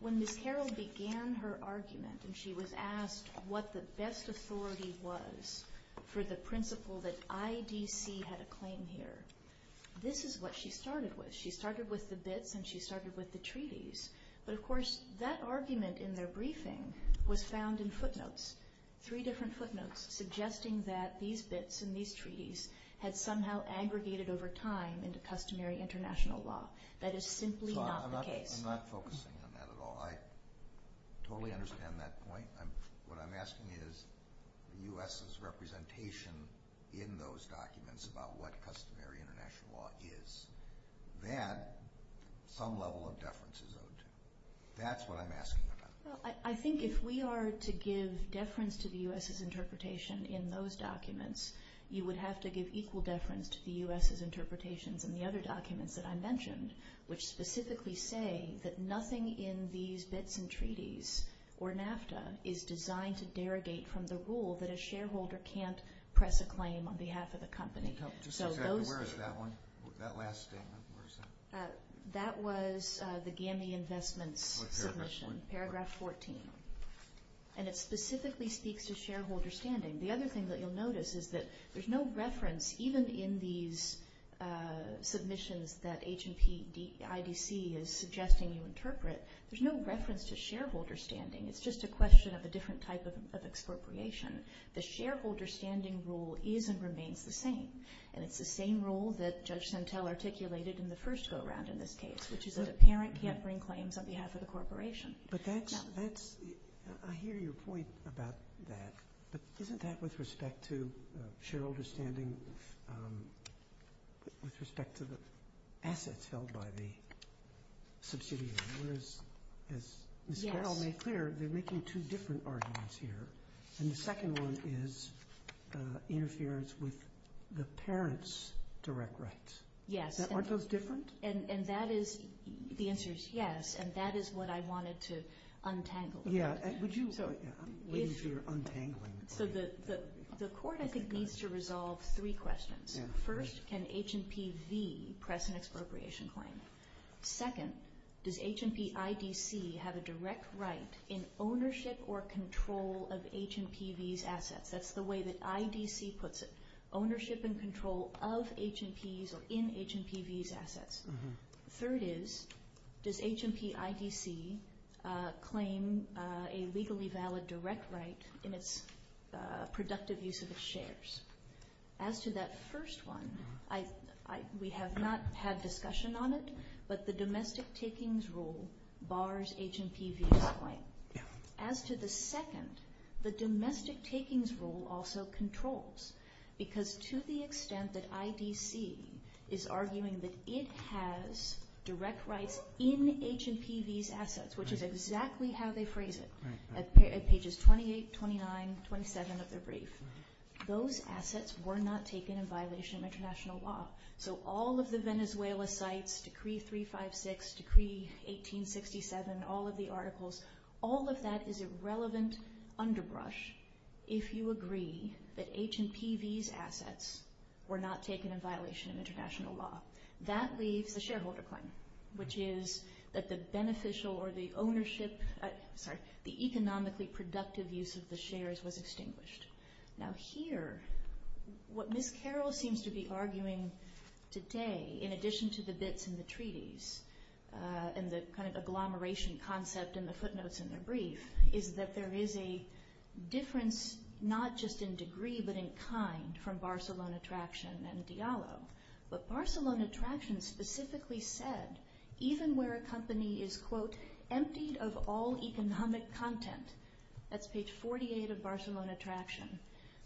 when Ms. Carroll began her argument, and she was asked what the best authority was for the principle that IDC had a claim here, this is what she started with. She started with the bids and she started with the treaties. But, of course, that argument in the briefing was found in footnotes, three different footnotes, suggesting that these bids and these treaties had somehow aggregated over time into customary international law. That is simply not the case. I'm not focusing on that at all. I totally understand that point. What I'm asking is the U.S.'s representation in those documents about what customary international law is, that some level of deference is owed to. That's what I'm asking about. I think if we are to give deference to the U.S.'s interpretation in those documents, you would have to give equal deference to the U.S.'s interpretations in the other documents that I mentioned, which specifically say that nothing in these bids and treaties or NAFTA is designed to derogate from the rule that a shareholder can't press a claim on behalf of a company. Where is that one, that last statement? That was the GAMI Investments submission, paragraph 14. And it specifically speaks to shareholder standing. The other thing that you'll notice is that there's no reference, even in these submissions that H&P IDC is suggesting you interpret, there's no reference to shareholder standing. It's just a question of a different type of expropriation. The shareholder standing rule is and remains the same, and it's the same rule that Judge Santel articulated in the first go-around in this case, which is that a parent can't bring claims on behalf of the corporation. But that's, I hear your point about that, but isn't that with respect to shareholder standing with respect to the assets held by the subsidiary? One is, as Carol made clear, they're making two different arguments here. And the second one is it interferes with the parent's direct rights. Yes. Aren't those different? And that is, the answer is yes, and that is what I wanted to untangle. Yeah. So the court, I think, needs to resolve three questions. First, can H&P Z press an expropriation claim? Second, does H&P IDC have a direct right in ownership or control of H&P V's assets? That's the way that IDC puts it, ownership and control of H&P's or in H&P V's assets. Third is, does H&P IDC claim a legally valid direct right in its productive use of its shares? As to that first one, we have not had discussion on it, but the domestic takings rule bars H&P V's claim. As to the second, the domestic takings rule also controls, because to the extent that IDC is arguing that it has direct rights in H&P V's assets, which is exactly how they phrase it at pages 28, 29, 27 of their brief, those assets were not taken in violation of international law. So all of the Venezuela sites, Decree 356, Decree 1867, all of the articles, all of that is a relevant underbrush if you agree that H&P V's assets were not taken in violation of international law. That leaves the shareholder claim, which is that the beneficial or the ownership, the economically productive use of the shares was extinguished. Now here, what Ms. Carroll seems to be arguing today, in addition to the bits in the treaties and the kind of agglomeration concept in the footnotes in their brief, is that there is a difference not just in degree but in kind from Barcelona Traction and Diallo. But Barcelona Traction specifically said, even where a company is, quote, empty of all economic content, that's page 48 of Barcelona Traction,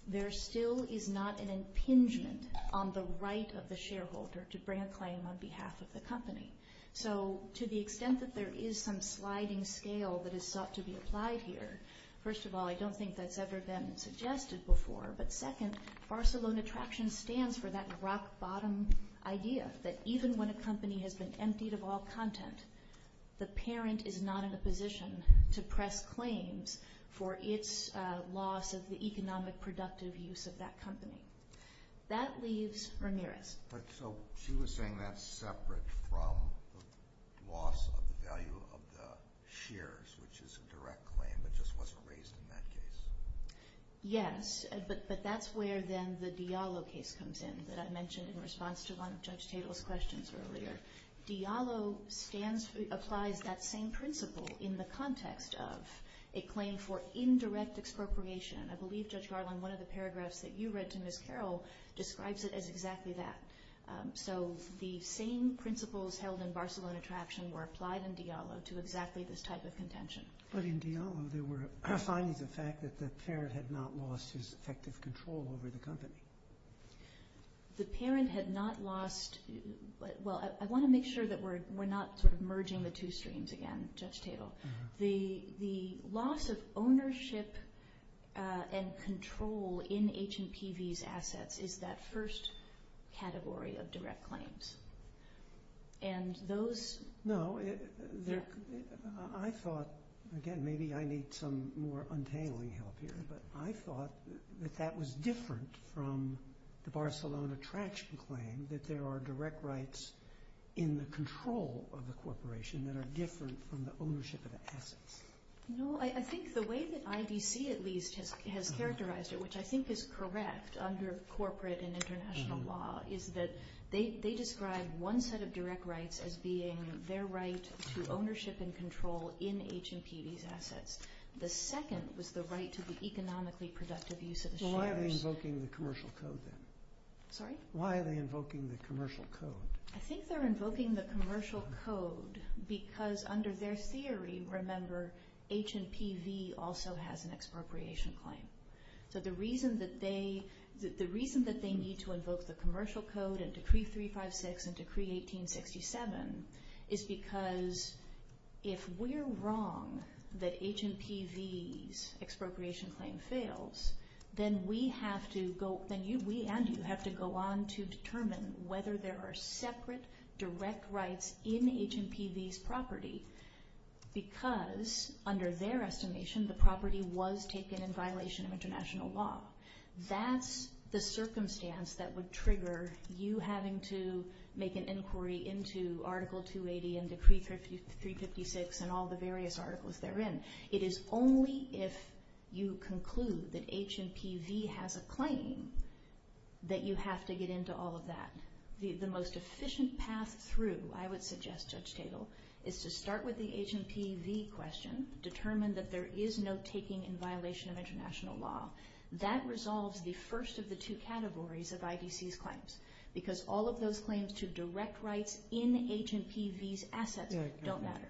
there still is not an impingement on the right of the shareholder to bring a claim on behalf of the company. So to the extent that there is some sliding scale that is thought to be applied here, first of all, I don't think that's ever been suggested before, but second, Barcelona Traction stands for that rock-bottom idea that even when a company has been emptied of all content, the parent is not in a position to press claims for its loss of the economic productive use of that company. That leaves Ramirez. So she was saying that's separate from loss of the value of the shares, which is a direct claim that just wasn't raised in that case. Yes, but that's where then the Diallo case comes in, that I mentioned in response to one of Judge Cable's questions earlier. Diallo applied that same principle in the context of a claim for indirect expropriation. I believe Judge Garland, one of the paragraphs that you read to Ms. Carroll, describes it as exactly that. So the same principles held in Barcelona Traction were applied in Diallo to exactly this type of contention. But in Diallo, there were cross-signs of the fact that the parent had not lost his effective control over the company. The parent had not lost – well, I want to make sure that we're not sort of merging the two streams again, Judge Cable. The loss of ownership and control in H&PV's assets is that first category of direct claims. And those – No, I thought – again, maybe I need some more untangling help here – but I thought that that was different from the Barcelona Traction claim, that there are direct rights in the control of the corporation that are different from the ownership of the assets. No, I think the way that IDC, at least, has characterized it, which I think is correct under corporate and international law, is that they describe one set of direct rights as being their right to ownership and control in H&PV's assets. The second was the right to the economically productive use of the shares. Why are they invoking the commercial code then? Sorry? Why are they invoking the commercial code? I think they're invoking the commercial code because under their theory, remember, H&PV also has an expropriation claim. So the reason that they need to invoke the commercial code and Decree 356 and Decree 1867 is because if we're wrong that H&PV's expropriation claim fails, then we and you have to go on to determine whether there are separate direct rights in H&PV's property because under their estimation, the property was taken in violation of international law. That's the circumstance that would trigger you having to make an inquiry into Article 280 and Decree 356 and all the various articles therein. It is only if you conclude that H&PV has a claim that you have to get into all of that. The most efficient path through, I would suggest, Judge Tatel, is to start with the H&PV question, determine that there is no taking in violation of international law. That resolves the first of the two categories of IDC's claims because all of those claims to direct rights in H&PV's assets don't matter.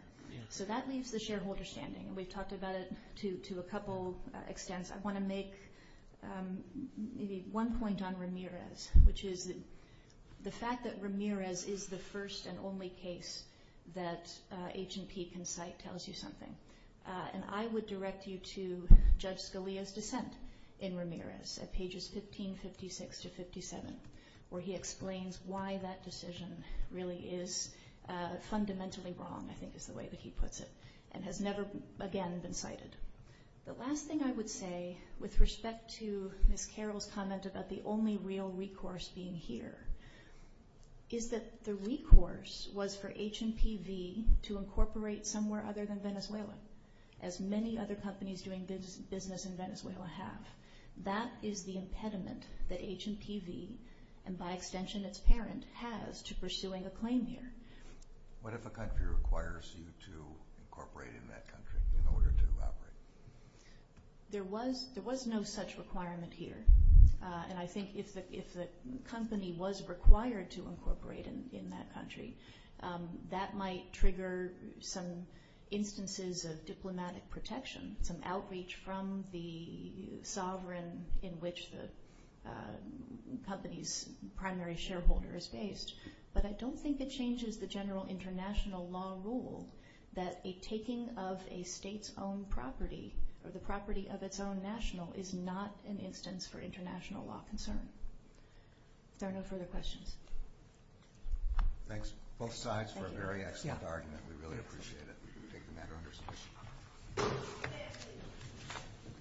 So that leaves the shareholder standing. We've talked about it to a couple extents. I want to make maybe one point on Ramirez, which is the fact that Ramirez is the first and only case that H&P can cite tells you something. And I would direct you to Judge Scalia's dissent in Ramirez at pages 1556 to 57, where he explains why that decision really is fundamentally wrong, I think is the way that he puts it, and has never again been cited. The last thing I would say with respect to Ms. Carroll's comment about the only real recourse being here is that the recourse was for H&PV to incorporate somewhere other than Venezuela, as many other companies doing business in Venezuela have. That is the impediment that H&PV, and by extension its parent, has to pursuing a claim here. What if a country requires you to incorporate in that country in order to operate? There was no such requirement here. And I think if a company was required to incorporate in that country, that might trigger some instances of diplomatic protection, some outreach from the sovereign in which the company's primary shareholder is based. But I don't think it changes the general international law rule that a taking of a state's own property or the property of its own national is not an instance for international law concern. Are there no further questions? Thanks both sides for a very excellent argument. We really appreciate it. We take the matter under suspicion.